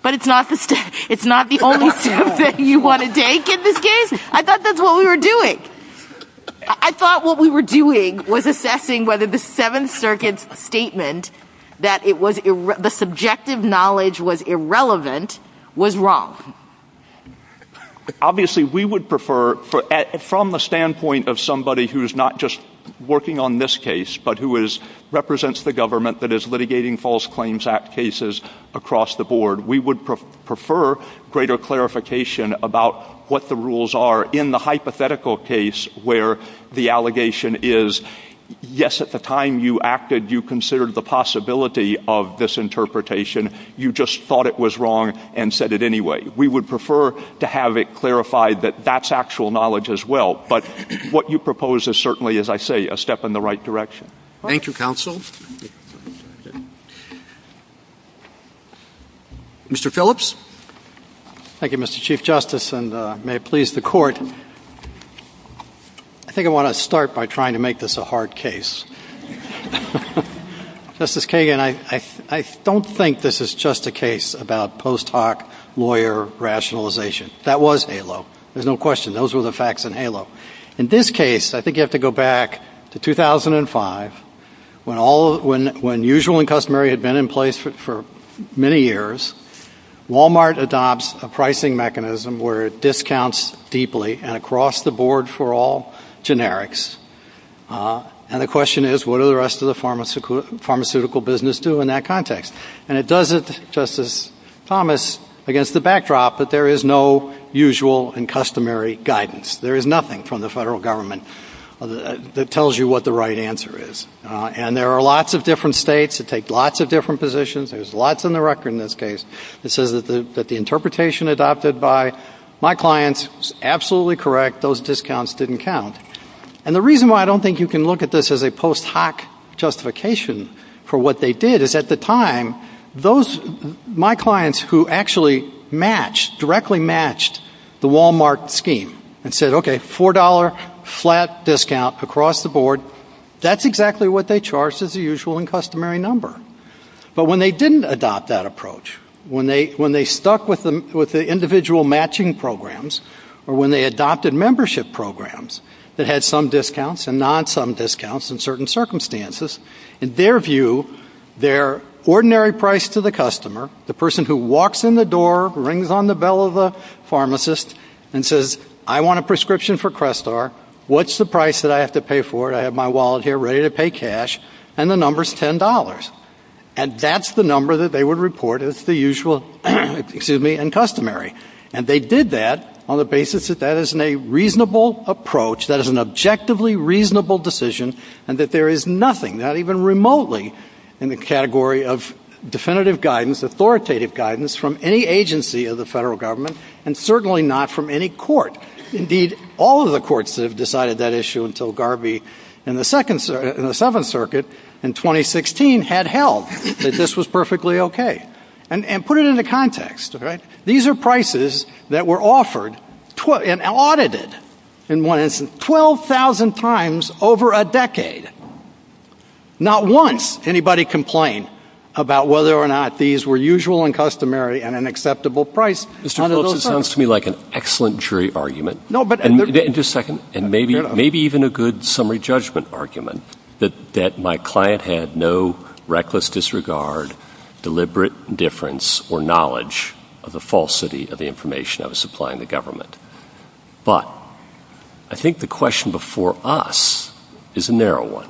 But it's not the only step that you want to take in this case. I thought that's what we were doing. I thought what we were doing was assessing whether the Seventh Circuit's statement that the subjective knowledge was irrelevant was wrong. Obviously, we would prefer, from the standpoint of somebody who is not just working on this case, but who represents the government that is litigating False Claims Act cases across the board, we would prefer greater clarification about what the rules are in the hypothetical case where the allegation is, yes, at the time you acted, you considered the possibility of this interpretation. You just thought it was wrong and said it anyway. We would prefer to have it clarified that that's actual knowledge as well. But what you propose is certainly, as I say, a step in the right direction. Thank you, Counsel. Mr. Phillips? Thank you, Mr. Chief Justice, and may it please the Court. I think I want to start by trying to make this a hard case. Justice Kagan, I don't think this is just a case about post hoc lawyer rationalization. That was HALO. There's no question. Those were the facts in HALO. In this case, I think you have to go back to 2005 when usual and customary had been in place for many years. Walmart adopts a pricing mechanism where it discounts deeply and across the board for all generics. And the question is, what do the rest of the pharmaceutical business do in that context? And it does it, Justice Thomas, against the backdrop that there is no usual and customary guidance. There is nothing from the federal government that tells you what the right answer is. And there are lots of different states that take lots of different positions. There's lots on the record in this case that says that the interpretation adopted by my clients is absolutely correct. Those discounts didn't count. And the reason why I don't think you can look at this as a post hoc justification for what they did is at the time, my clients who actually matched, directly matched the Walmart scheme and said, okay, $4 flat discount across the board, that's exactly what they charged as the usual and customary number. But when they didn't adopt that approach, when they stuck with the individual matching programs, or when they adopted membership programs that had some discounts and not some discounts in certain circumstances, in their view, their ordinary price to the customer, the person who walks in the door, rings on the bell of the pharmacist and says, I want a prescription for Crestar. What's the price that I have to pay for it? I have my wallet here ready to pay cash. And the number's $10. And that's the number that they would report as the usual, excuse me, and customary. And they did that on the basis that that is a reasonable approach, that is an objectively reasonable decision, and that there is nothing, not even remotely, in the category of definitive guidance, authoritative guidance, from any agency of the federal government, and certainly not from any court. Indeed, all of the courts have decided that issue until Garvey in the Seventh Circuit in 2016 had held that this was perfectly okay. And put it into context. These are prices that were offered and audited, in one instance, 12,000 times over a decade. Not once did anybody complain about whether or not these were usual and customary and an acceptable price. It sounds to me like an excellent jury argument, and maybe even a good summary judgment argument, that my client had no reckless disregard, deliberate difference, or knowledge of the falsity of the information I was supplying the government. But I think the question before us is a narrow one,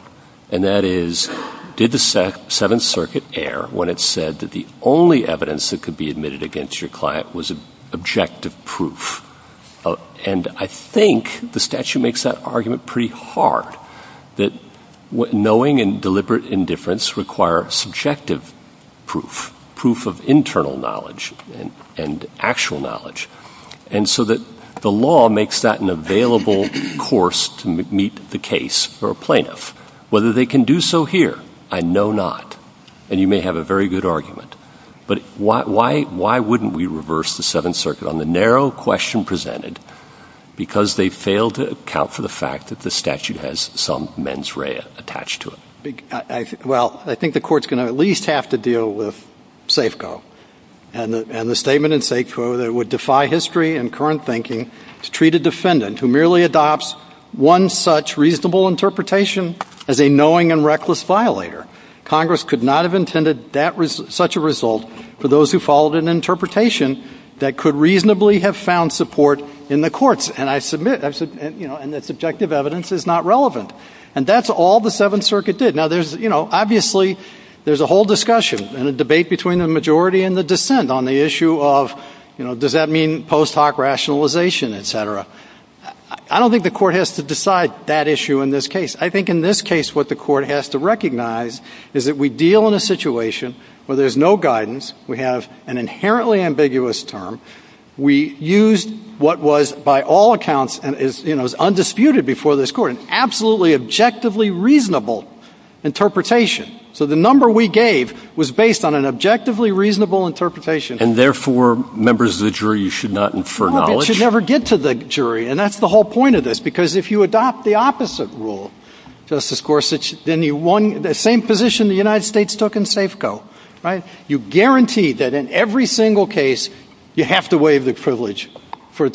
and that is, did the Seventh Circuit err when it said that the only evidence that could be admitted against your client was objective proof? And I think the statute makes that argument pretty hard, that knowing and deliberate indifference require subjective proof, proof of internal knowledge and actual knowledge, and so that the law makes that an available course to meet the case for a plaintiff. Whether they can do so here, I know not. And you may have a very good argument. But why wouldn't we reverse the Seventh Circuit on the narrow question presented because they failed to account for the fact that the statute has some mens rea attached to it? Well, I think the court's going to at least have to deal with Safeco, and the statement in Safeco that it would defy history and current thinking to treat a defendant who merely adopts one such reasonable interpretation as a knowing and reckless violator. Congress could not have intended such a result for those who followed an interpretation that could reasonably have found support in the courts. And I submit that subjective evidence is not relevant. And that's all the Seventh Circuit did. Now, obviously, there's a whole discussion and a debate between the majority and the dissent on the issue of, does that mean post hoc rationalization, et cetera. I don't think the court has to decide that issue in this case. I think in this case what the court has to recognize is that we deal in a situation where there's no guidance. We have an inherently ambiguous term. We used what was by all accounts and is undisputed before this court, an absolutely objectively reasonable interpretation. So the number we gave was based on an objectively reasonable interpretation. And therefore, members of the jury, you should not infer knowledge? You should never get to the jury. And that's the whole point of this, because if you adopt the opposite rule, Justice Gorsuch, then you won the same position the United States took in Safeco, right? You guarantee that in every single case you have to waive the privilege for the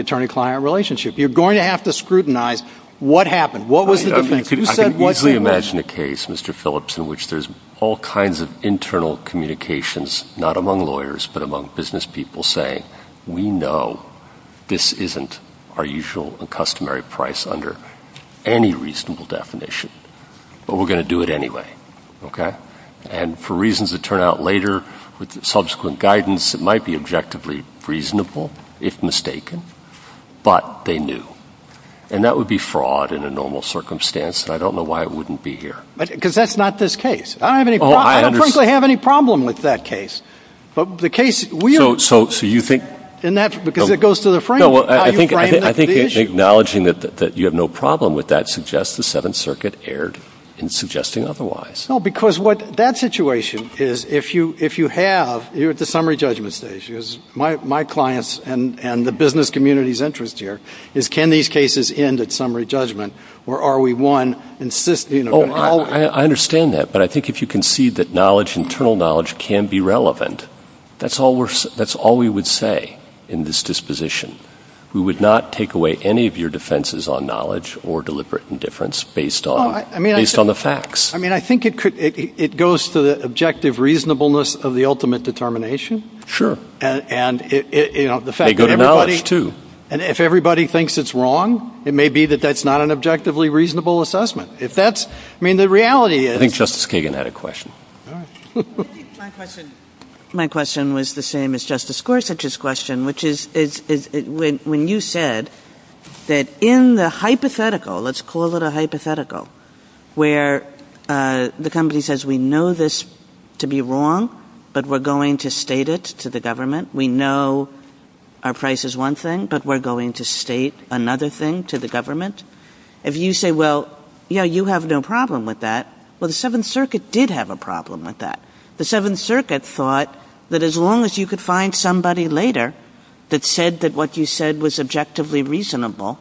attorney-client relationship. You're going to have to scrutinize what happened. What was the defense? Who said what? I can easily imagine a case, Mr. Phillips, in which there's all kinds of internal communications, not among lawyers but among business people, saying, we know this isn't our usual and customary price under any reasonable definition, but we're going to do it anyway, okay? And for reasons that turn out later with subsequent guidance, it might be objectively reasonable if mistaken, but they knew. And that would be fraud in a normal circumstance, and I don't know why it wouldn't be here. Because that's not this case. I don't think I have any problem with that case. But the case we're in, because it goes to the frame. I think acknowledging that you have no problem with that suggests the Seventh Circuit erred in suggesting otherwise. No, because what that situation is, if you have, you're at the summary judgment stage. My clients and the business community's interest here is can these cases end at summary judgment, or are we, one, insisting? I understand that, but I think if you concede that knowledge, internal knowledge, can be relevant, that's all we would say in this disposition. We would not take away any of your defenses on knowledge or deliberate indifference based on the facts. I mean, I think it goes to the objective reasonableness of the ultimate determination. Sure. And if everybody thinks it's wrong, it may be that that's not an objectively reasonable assessment. I think Justice Kagan had a question. My question was the same as Justice Gorsuch's question, which is when you said that in the hypothetical, let's call it a hypothetical, where the company says we know this to be wrong, but we're going to state it to the government. We know our price is one thing, but we're going to state another thing to the government. If you say, well, yeah, you have no problem with that, well, the Seventh Circuit did have a problem with that. The Seventh Circuit thought that as long as you could find somebody later that said that what you said was objectively reasonable,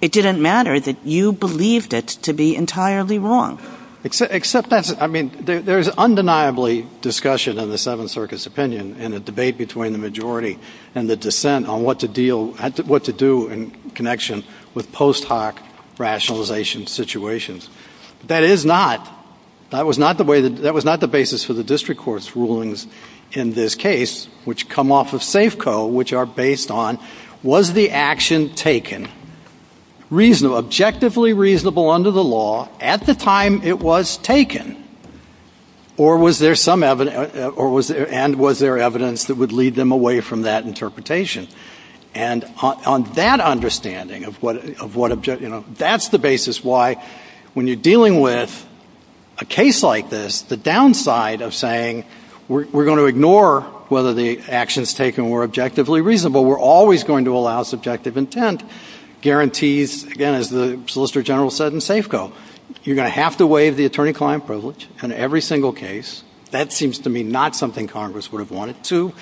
it didn't matter that you believed it to be entirely wrong. Except that's – I mean, there's undeniably discussion in the Seventh Circuit's opinion and the debate between the majority and the dissent on what to deal – what to do in connection with post hoc rationalization situations. That is not – that was not the way – that was not the basis for the district court's rulings in this case, which come off of Safeco, which are based on was the action taken reasonable, objectively reasonable under the law at the time it was taken, or was there some – and was there evidence that would lead them away from that interpretation? And on that understanding of what – that's the basis why when you're dealing with a case like this, the downside of saying we're going to ignore whether the actions taken were objectively reasonable, we're always going to allow subjective intent guarantees, again, as the Solicitor General said in Safeco. You're going to have to waive the attorney-client privilege on every single case. That seems to me not something Congress would have wanted to.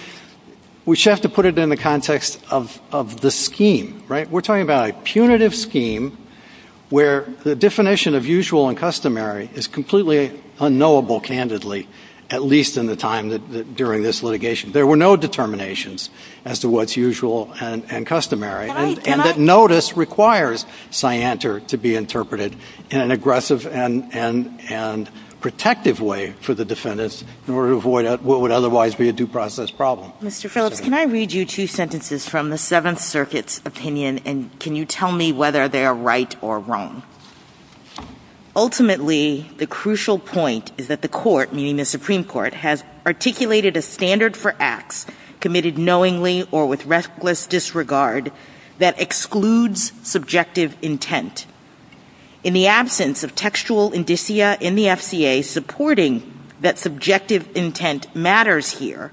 We just have to put it in the context of the scheme, right? We're talking about a punitive scheme where the definition of usual and customary is completely unknowable, candidly, at least in the time that – during this litigation. There were no determinations as to what's usual and customary. And that notice requires scienter to be interpreted in an aggressive and protective way for the defendants in order to avoid what would otherwise be a due process problem. Mr. Phillips, can I read you two sentences from the Seventh Circuit's opinion, and can you tell me whether they are right or wrong? Ultimately, the crucial point is that the court, meaning the Supreme Court, has articulated a standard for acts committed knowingly or with restless disregard that excludes subjective intent. In the absence of textual indicia in the FCA supporting that subjective intent matters here,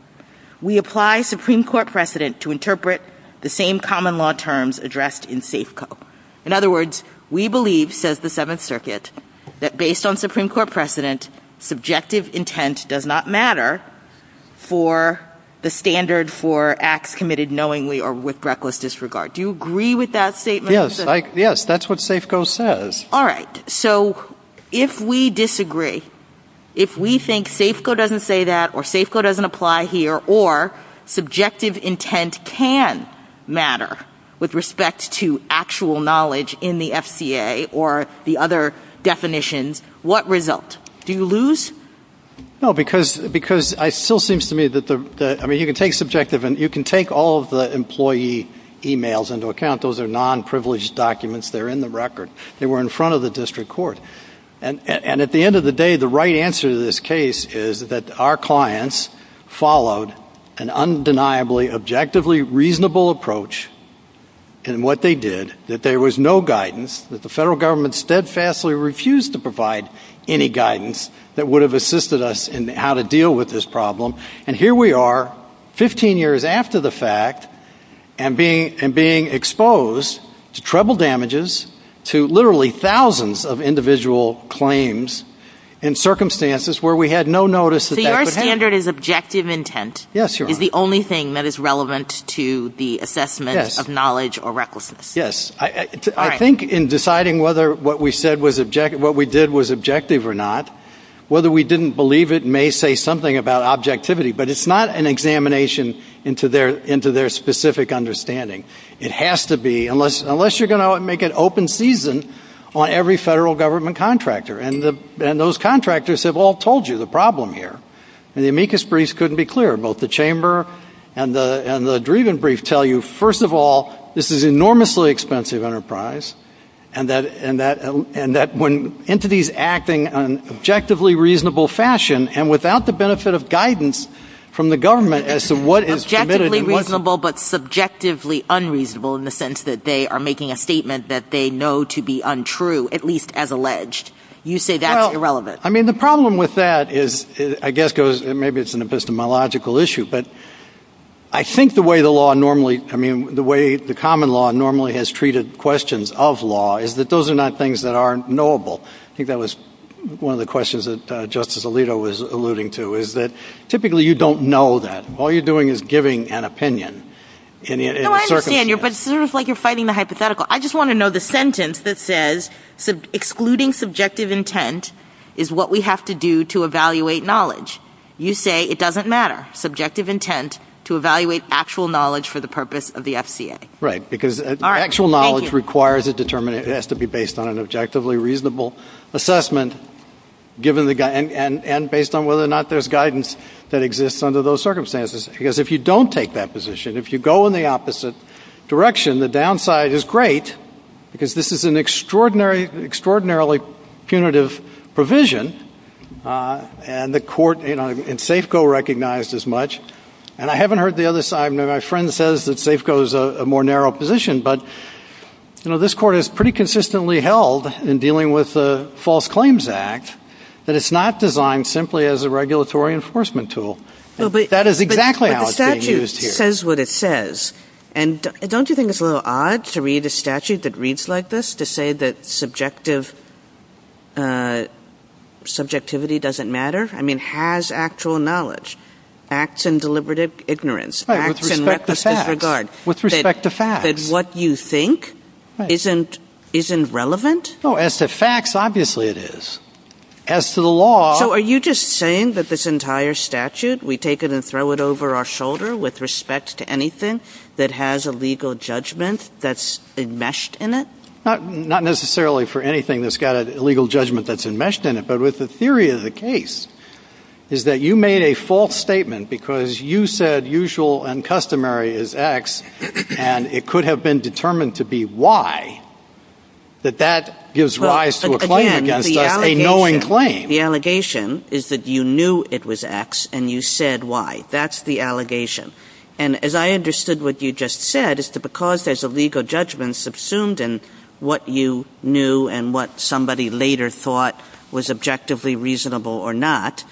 we apply Supreme Court precedent to interpret the same common law terms addressed in Safeco. In other words, we believe, says the Seventh Circuit, that based on Supreme Court precedent, subjective intent does not matter for the standard for acts committed knowingly or with reckless disregard. Do you agree with that statement? Yes, that's what Safeco says. All right, so if we disagree, if we think Safeco doesn't say that or Safeco doesn't apply here or subjective intent can matter with respect to actual knowledge in the FCA or the other definitions, what result? Do you lose? No, because it still seems to me that, I mean, you can take subjective, and you can take all of the employee e-mails into account. Those are non-privileged documents that are in the record. They were in front of the district court. And at the end of the day, the right answer to this case is that our clients followed an undeniably, objectively reasonable approach in what they did, that there was no guidance, that the federal government steadfastly refused to provide any guidance that would have assisted us in how to deal with this problem. And here we are, 15 years after the fact, and being exposed to trouble damages, to literally thousands of individual claims in circumstances where we had no notice that that could happen. So your standard is objective intent is the only thing that is relevant to the assessment of knowledge or recklessness. Yes. I think in deciding whether what we did was objective or not, whether we didn't believe it may say something about objectivity, but it's not an examination into their specific understanding. It has to be, unless you're going to make it open season on every federal government contractor. And those contractors have all told you the problem here. And the amicus briefs couldn't be clearer. Both the chamber and the Driven brief tell you, first of all, this is an enormously expensive enterprise, and that when entities acting in an objectively reasonable fashion and without the benefit of guidance from the government as to what is submitted. Objectively reasonable but subjectively unreasonable in the sense that they are making a statement that they know to be untrue, at least as alleged. You say that's irrelevant. Well, I mean, the problem with that is, I guess, maybe it's an epistemological issue, but I think the way the law normally, I mean, the way the common law normally has treated questions of law is that those are not things that aren't knowable. I think that was one of the questions that Justice Alito was alluding to, is that typically you don't know that. All you're doing is giving an opinion. No, I understand, but it's sort of like you're fighting the hypothetical. I just want to know the sentence that says, excluding subjective intent is what we have to do to evaluate knowledge. You say it doesn't matter. Subjective intent to evaluate actual knowledge for the purpose of the FCA. Right, because actual knowledge requires a determination. It has to be based on an objectively reasonable assessment and based on whether or not there's guidance that exists under those circumstances. Because if you don't take that position, if you go in the opposite direction, the downside is great because this is an extraordinarily punitive provision, and the court in SAFCO recognized as much, and I haven't heard the other side. My friend says that SAFCO is a more narrow position, but this court has pretty consistently held in dealing with the False Claims Act that it's not designed simply as a regulatory enforcement tool. That is exactly how it's being used here. But the statute says what it says, and don't you think it's a little odd to read a statute that reads like this, just to say that subjectivity doesn't matter? I mean, has actual knowledge, acts in deliberate ignorance, acts in reckless disregard. With respect to facts. That what you think isn't relevant? As to facts, obviously it is. As to the law... So are you just saying that this entire statute, we take it and throw it over our shoulder with respect to anything that has a legal judgment that's enmeshed in it? Not necessarily for anything that's got a legal judgment that's enmeshed in it, but with the theory of the case, is that you made a false statement because you said usual and customary is X, and it could have been determined to be Y, that that gives rise to a claim against us, a knowing claim. The allegation is that you knew it was X, and you said Y. That's the allegation. And as I understood what you just said, is that because there's a legal judgment subsumed in what you knew and what somebody later thought was objectively reasonable or not,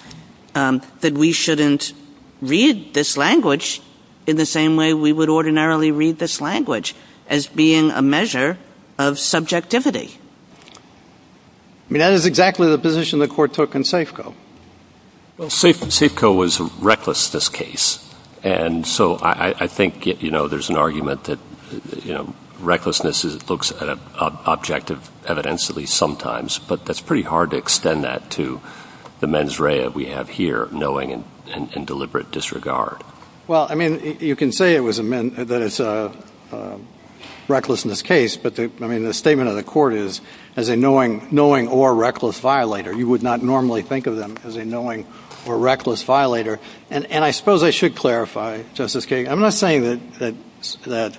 that we shouldn't read this language in the same way we would ordinarily read this language, as being a measure of subjectivity. I mean, that is exactly the position the court took in Safeco. Well, Safeco was reckless in this case. And so I think, you know, there's an argument that, you know, recklessness looks at an object evidentially sometimes, but that's pretty hard to extend that to the mens rea we have here, knowing and in deliberate disregard. Well, I mean, you can say that it's a recklessness case, but, I mean, the statement of the court is, as a knowing or reckless violator, you would not normally think of them as a knowing or reckless violator. And I suppose I should clarify, Justice Kagan, I'm not saying that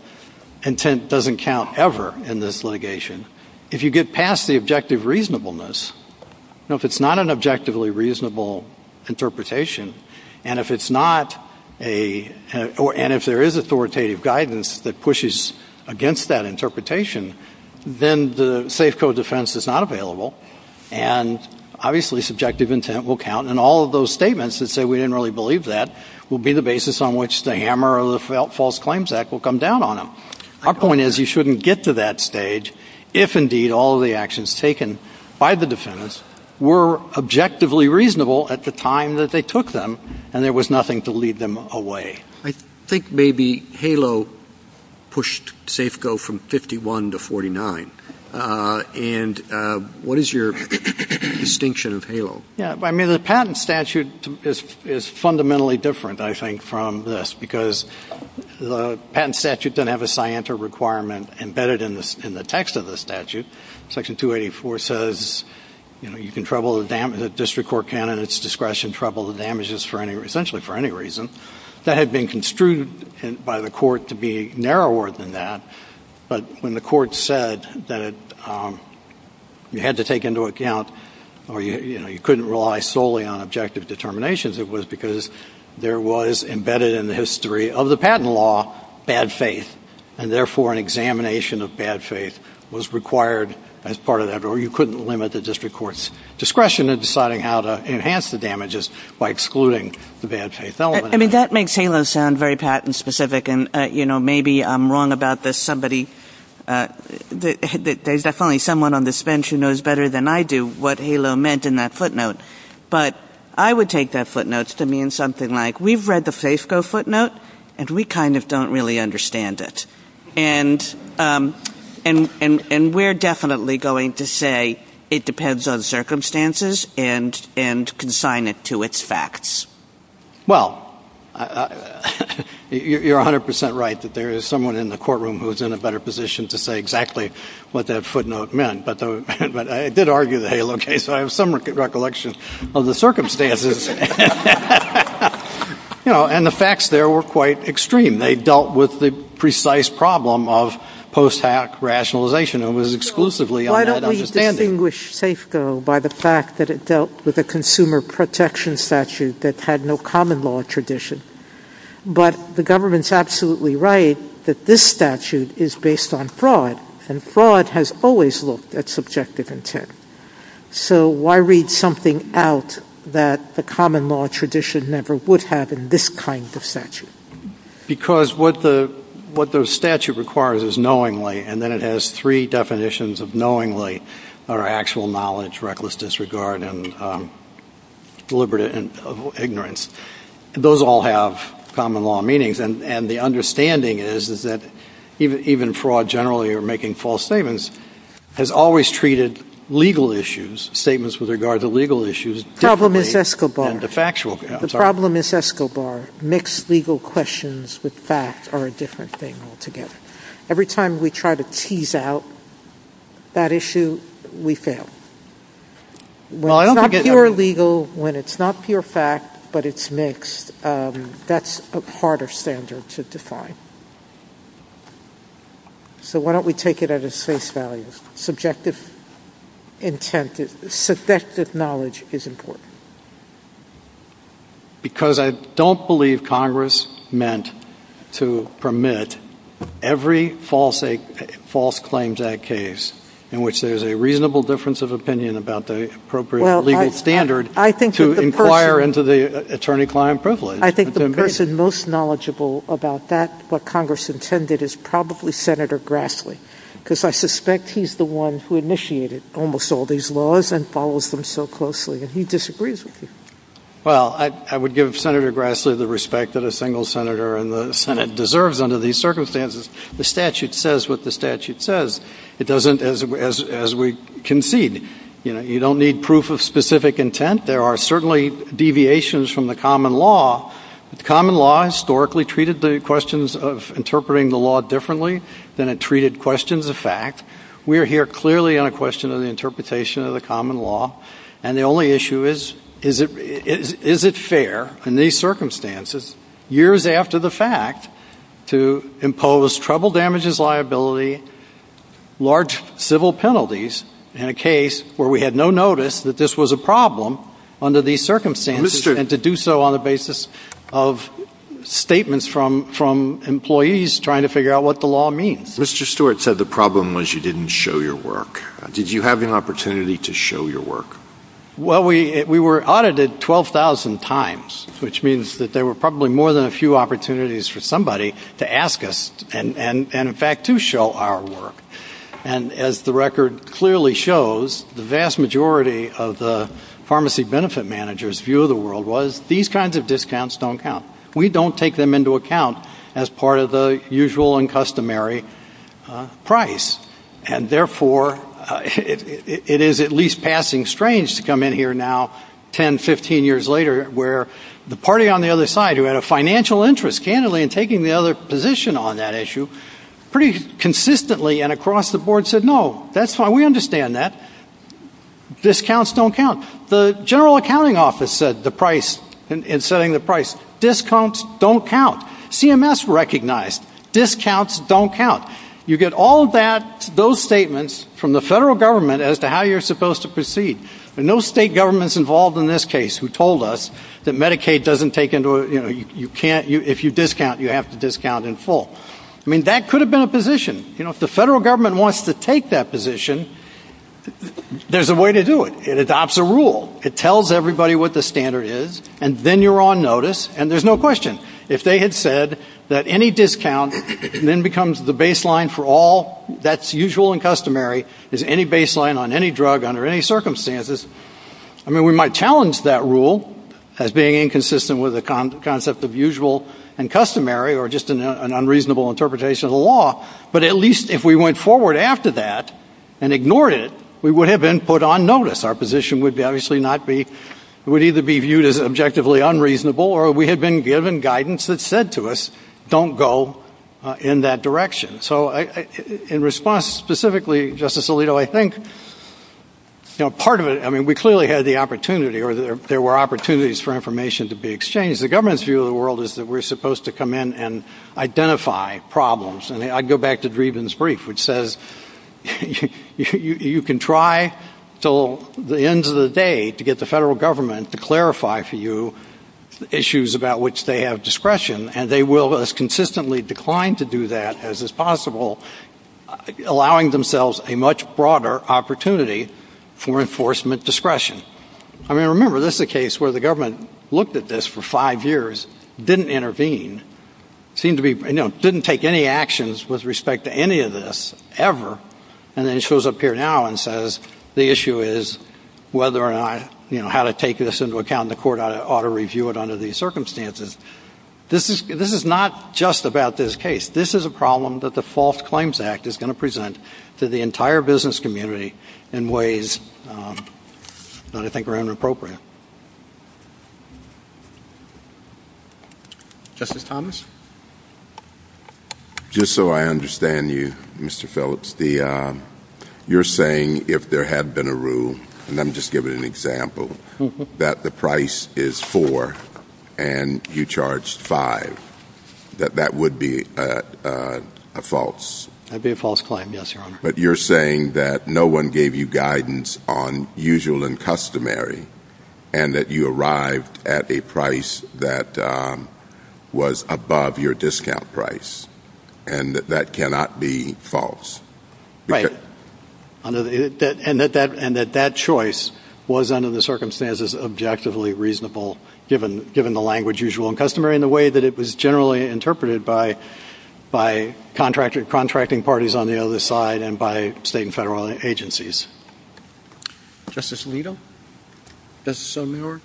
intent doesn't count ever in this litigation. If you get past the objective reasonableness, if it's not an objectively reasonable interpretation, and if there is authoritative guidance that pushes against that interpretation, then the Safeco defense is not available. And obviously subjective intent will count, and all of those statements that say we didn't really believe that will be the basis on which the hammer or the false claims act will come down on them. Our point is you shouldn't get to that stage if, indeed, all of the actions taken by the defendants were objectively reasonable at the time that they took them and there was nothing to lead them away. I think maybe HALO pushed Safeco from 51 to 49. And what is your distinction of HALO? I mean, the patent statute is fundamentally different, I think, from this, because the patent statute doesn't have a scienter requirement embedded in the text of the statute. Section 284 says you can trouble the district court candidates' discretion, trouble the damages essentially for any reason. That had been construed by the court to be narrower than that, but when the court said that you had to take into account or you couldn't rely solely on objective determinations, it was because there was embedded in the history of the patent law bad faith, and therefore an examination of bad faith was required as part of that, or you couldn't limit the district court's discretion in deciding how to enhance the damages by excluding the bad faith element. I mean, that makes HALO sound very patent specific, and maybe I'm wrong about this. There's definitely someone on this bench who knows better than I do what HALO meant in that footnote. But I would take that footnote to mean something like, we've read the Safeco footnote, and we kind of don't really understand it. And we're definitely going to say it depends on circumstances and consign it to its facts. Well, you're 100% right that there is someone in the courtroom who is in a better position to say exactly what that footnote meant. But I did argue the HALO case, so I have some recollections of the circumstances. And the facts there were quite extreme. They dealt with the precise problem of post-hack rationalization and was exclusively on that understanding. I distinguish Safeco by the fact that it dealt with a consumer protection statute that had no common law tradition. But the government's absolutely right that this statute is based on fraud, and fraud has always looked at subjective intent. So why read something out that the common law tradition never would have in this kind of statute? Because what the statute requires is knowingly, and then it has three definitions of knowingly, or actual knowledge, reckless disregard, and deliberate ignorance. Those all have common law meanings, and the understanding is that even fraud generally, or making false statements, has always treated legal issues, statements with regard to legal issues, differently than the factual. The problem is Escobar. Mixed legal questions with facts are a different thing altogether. Every time we try to tease out that issue, we fail. When it's not pure legal, when it's not pure fact, but it's mixed, that's a harder standard to define. So why don't we take it at its face value? Subjective knowledge is important. Because I don't believe Congress meant to permit every false claims act case in which there's a reasonable difference of opinion about the appropriate legal standard to inquire into the attorney-client privilege. I think the person most knowledgeable about that, what Congress intended, is probably Senator Grassley, because I suspect he's the one who initiated almost all these laws and follows them so closely, and he disagrees with them. Well, I would give Senator Grassley the respect that a single senator in the Senate deserves under these circumstances. The statute says what the statute says. It doesn't as we concede. You don't need proof of specific intent. There are certainly deviations from the common law. The common law historically treated the questions of interpreting the law differently than it treated questions of fact. We are here clearly on a question of the interpretation of the common law, and the only issue is, is it fair in these circumstances, years after the fact, to impose trouble damages liability, large civil penalties, in a case where we had no notice that this was a problem under these circumstances, and to do so on the basis of statements from employees trying to figure out what the law means. Mr. Stewart said the problem was you didn't show your work. Did you have the opportunity to show your work? Well, we were audited 12,000 times, which means that there were probably more than a few opportunities for somebody to ask us and, in fact, to show our work. And as the record clearly shows, the vast majority of the pharmacy benefit managers' view of the world was, these kinds of discounts don't count. We don't take them into account as part of the usual and customary price, and, therefore, it is at least passing strange to come in here now, 10, 15 years later, where the party on the other side, who had a financial interest candidly in taking the other position on that issue, pretty consistently and across the board said, no, that's fine, we understand that, discounts don't count. The General Accounting Office said the price, in setting the price, discounts don't count. CMS recognized, discounts don't count. You get all those statements from the federal government as to how you're supposed to proceed, and no state government's involved in this case who told us that Medicaid doesn't take into account, if you discount, you have to discount in full. I mean, that could have been a position. You know, if the federal government wants to take that position, there's a way to do it. It adopts a rule. It tells everybody what the standard is, and then you're on notice, and there's no question. If they had said that any discount then becomes the baseline for all, that's usual and customary, is any baseline on any drug under any circumstances, I mean, we might challenge that rule as being inconsistent with the concept of usual and customary or just an unreasonable interpretation of the law, but at least if we went forward after that and ignored it, we would have been put on notice. Our position would obviously not be, would either be viewed as objectively unreasonable or we had been given guidance that said to us, don't go in that direction. So in response specifically, Justice Alito, I think, you know, part of it, I mean, we clearly had the opportunity or there were opportunities for information to be exchanged. The government's view of the world is that we're supposed to come in and identify problems. And I go back to Dreeben's brief, which says you can try until the end of the day to get the federal government to clarify for you issues about which they have discretion, and they will as consistently decline to do that as is possible, allowing themselves a much broader opportunity for enforcement discretion. I mean, remember, this is a case where the government looked at this for five years, didn't intervene, seemed to be, you know, didn't take any actions with respect to any of this ever, and then it shows up here now and says the issue is whether or not, you know, how to take this into account and the court ought to review it under these circumstances. This is not just about this case. This is a problem that the False Claims Act is going to present to the entire business community in ways that I think are inappropriate. Thank you. Justice Thomas? Just so I understand you, Mr. Phillips, you're saying if there had been a rule, and I'm just giving an example, that the price is four and you charge five, that that would be a false? That would be a false claim, yes, Your Honor. But you're saying that no one gave you guidance on usual and customary and that you arrived at a price that was above your discount price and that that cannot be false? Right. And that that choice was under the circumstances objectively reasonable given the language of usual and customary in the way that it was generally interpreted by contracting parties on the other side and by state and federal agencies. Justice Alito? Justice Muir?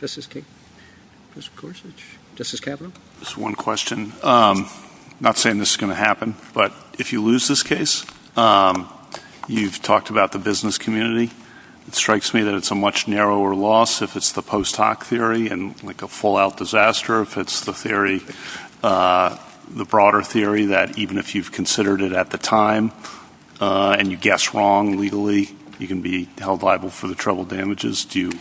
Justice Kavanaugh? Just one question. I'm not saying this is going to happen, but if you lose this case, you've talked about the business community. It strikes me that it's a much narrower loss if it's the post hoc theory and like a fallout disaster. If it's the theory, the broader theory that even if you've considered it at the time and you guessed wrong legally, you can be held liable for the troubled damages. Do you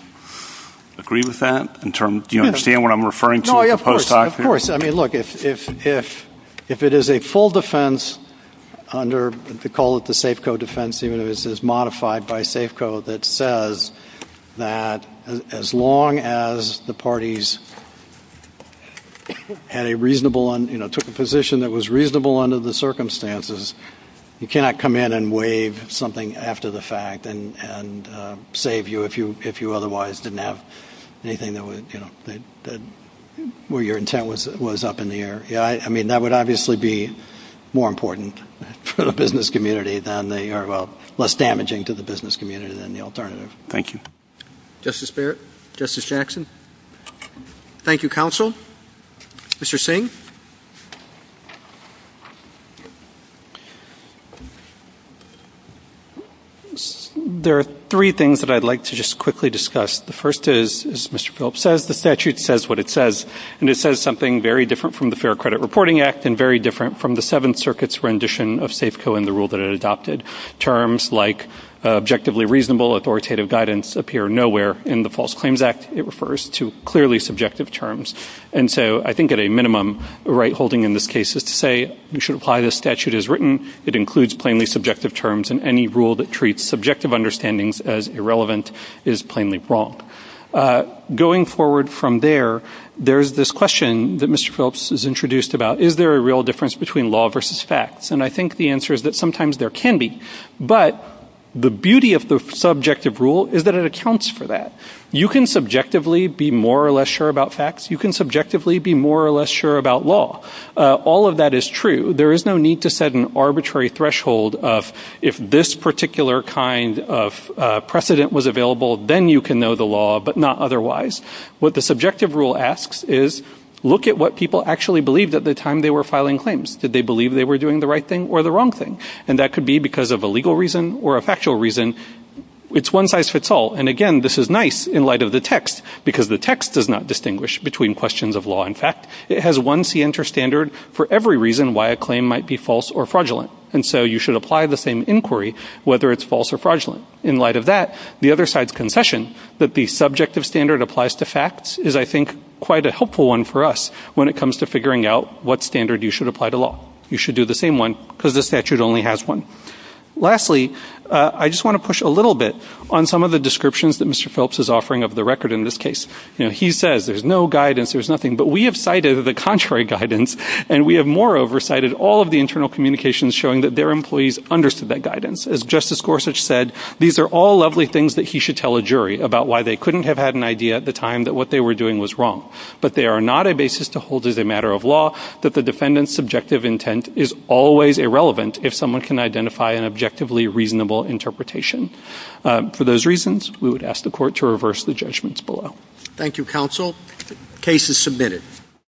agree with that? Do you understand what I'm referring to? Of course. Of course. I mean, look, if it is a full defense under, if you call it the Safeco defense unit, this is modified by Safeco that says that as long as the parties had a reasonable, took a position that was reasonable under the circumstances, you cannot come in and waive something after the fact and save you if you otherwise didn't have anything where your intent was up in the air. I mean, that would obviously be more important for the business community than they are less damaging to the business community than the alternative. Thank you. Justice Barrett? Justice Jackson? Thank you, counsel. Mr. Singh? There are three things that I'd like to just quickly discuss. The first is, as Mr. Phillips says, the statute says what it says, and it says something very different from the Fair Credit Reporting Act and very different from the Seventh Circuit's rendition of Safeco and the rule that it adopted. Terms like objectively reasonable authoritative guidance appear nowhere in the False Claims Act. It refers to clearly subjective terms, and so I think at a minimum the right holding in this case is to say you should apply the statute as written. It includes plainly subjective terms, and any rule that treats subjective understandings as irrelevant is plainly wrong. Going forward from there, there's this question that Mr. Phillips has introduced about, is there a real difference between law versus facts? And I think the answer is that sometimes there can be, but the beauty of the subjective rule is that it accounts for that. You can subjectively be more or less sure about facts. You can subjectively be more or less sure about law. All of that is true. There is no need to set an arbitrary threshold of if this particular kind of precedent was available, then you can know the law, but not otherwise. What the subjective rule asks is look at what people actually believed at the time they were filing claims. Did they believe they were doing the right thing or the wrong thing? And that could be because of a legal reason or a factual reason. It's one size fits all, and again, this is nice in light of the text, because the text does not distinguish between questions of law and fact. It has one standard for every reason why a claim might be false or fraudulent, and so you should apply the same inquiry whether it's false or fraudulent. In light of that, the other side's confession that the subjective standard applies to facts is, I think, quite a helpful one for us when it comes to figuring out what standard you should apply to law. You should do the same one because the statute only has one. Lastly, I just want to push a little bit on some of the descriptions that Mr. Phillips is offering of the record in this case. He says there's no guidance, there's nothing, but we have cited the contrary guidance, and we have moreover cited all of the internal communications showing that their employees understood that guidance. As Justice Gorsuch said, these are all lovely things that he should tell a jury about why they couldn't have had an idea at the time that what they were doing was wrong, but they are not a basis to hold as a matter of law that the defendant's subjective intent is always irrelevant if someone can identify an objectively reasonable interpretation. For those reasons, we would ask the Court to reverse the judgments below. Thank you, Counsel. Case is submitted.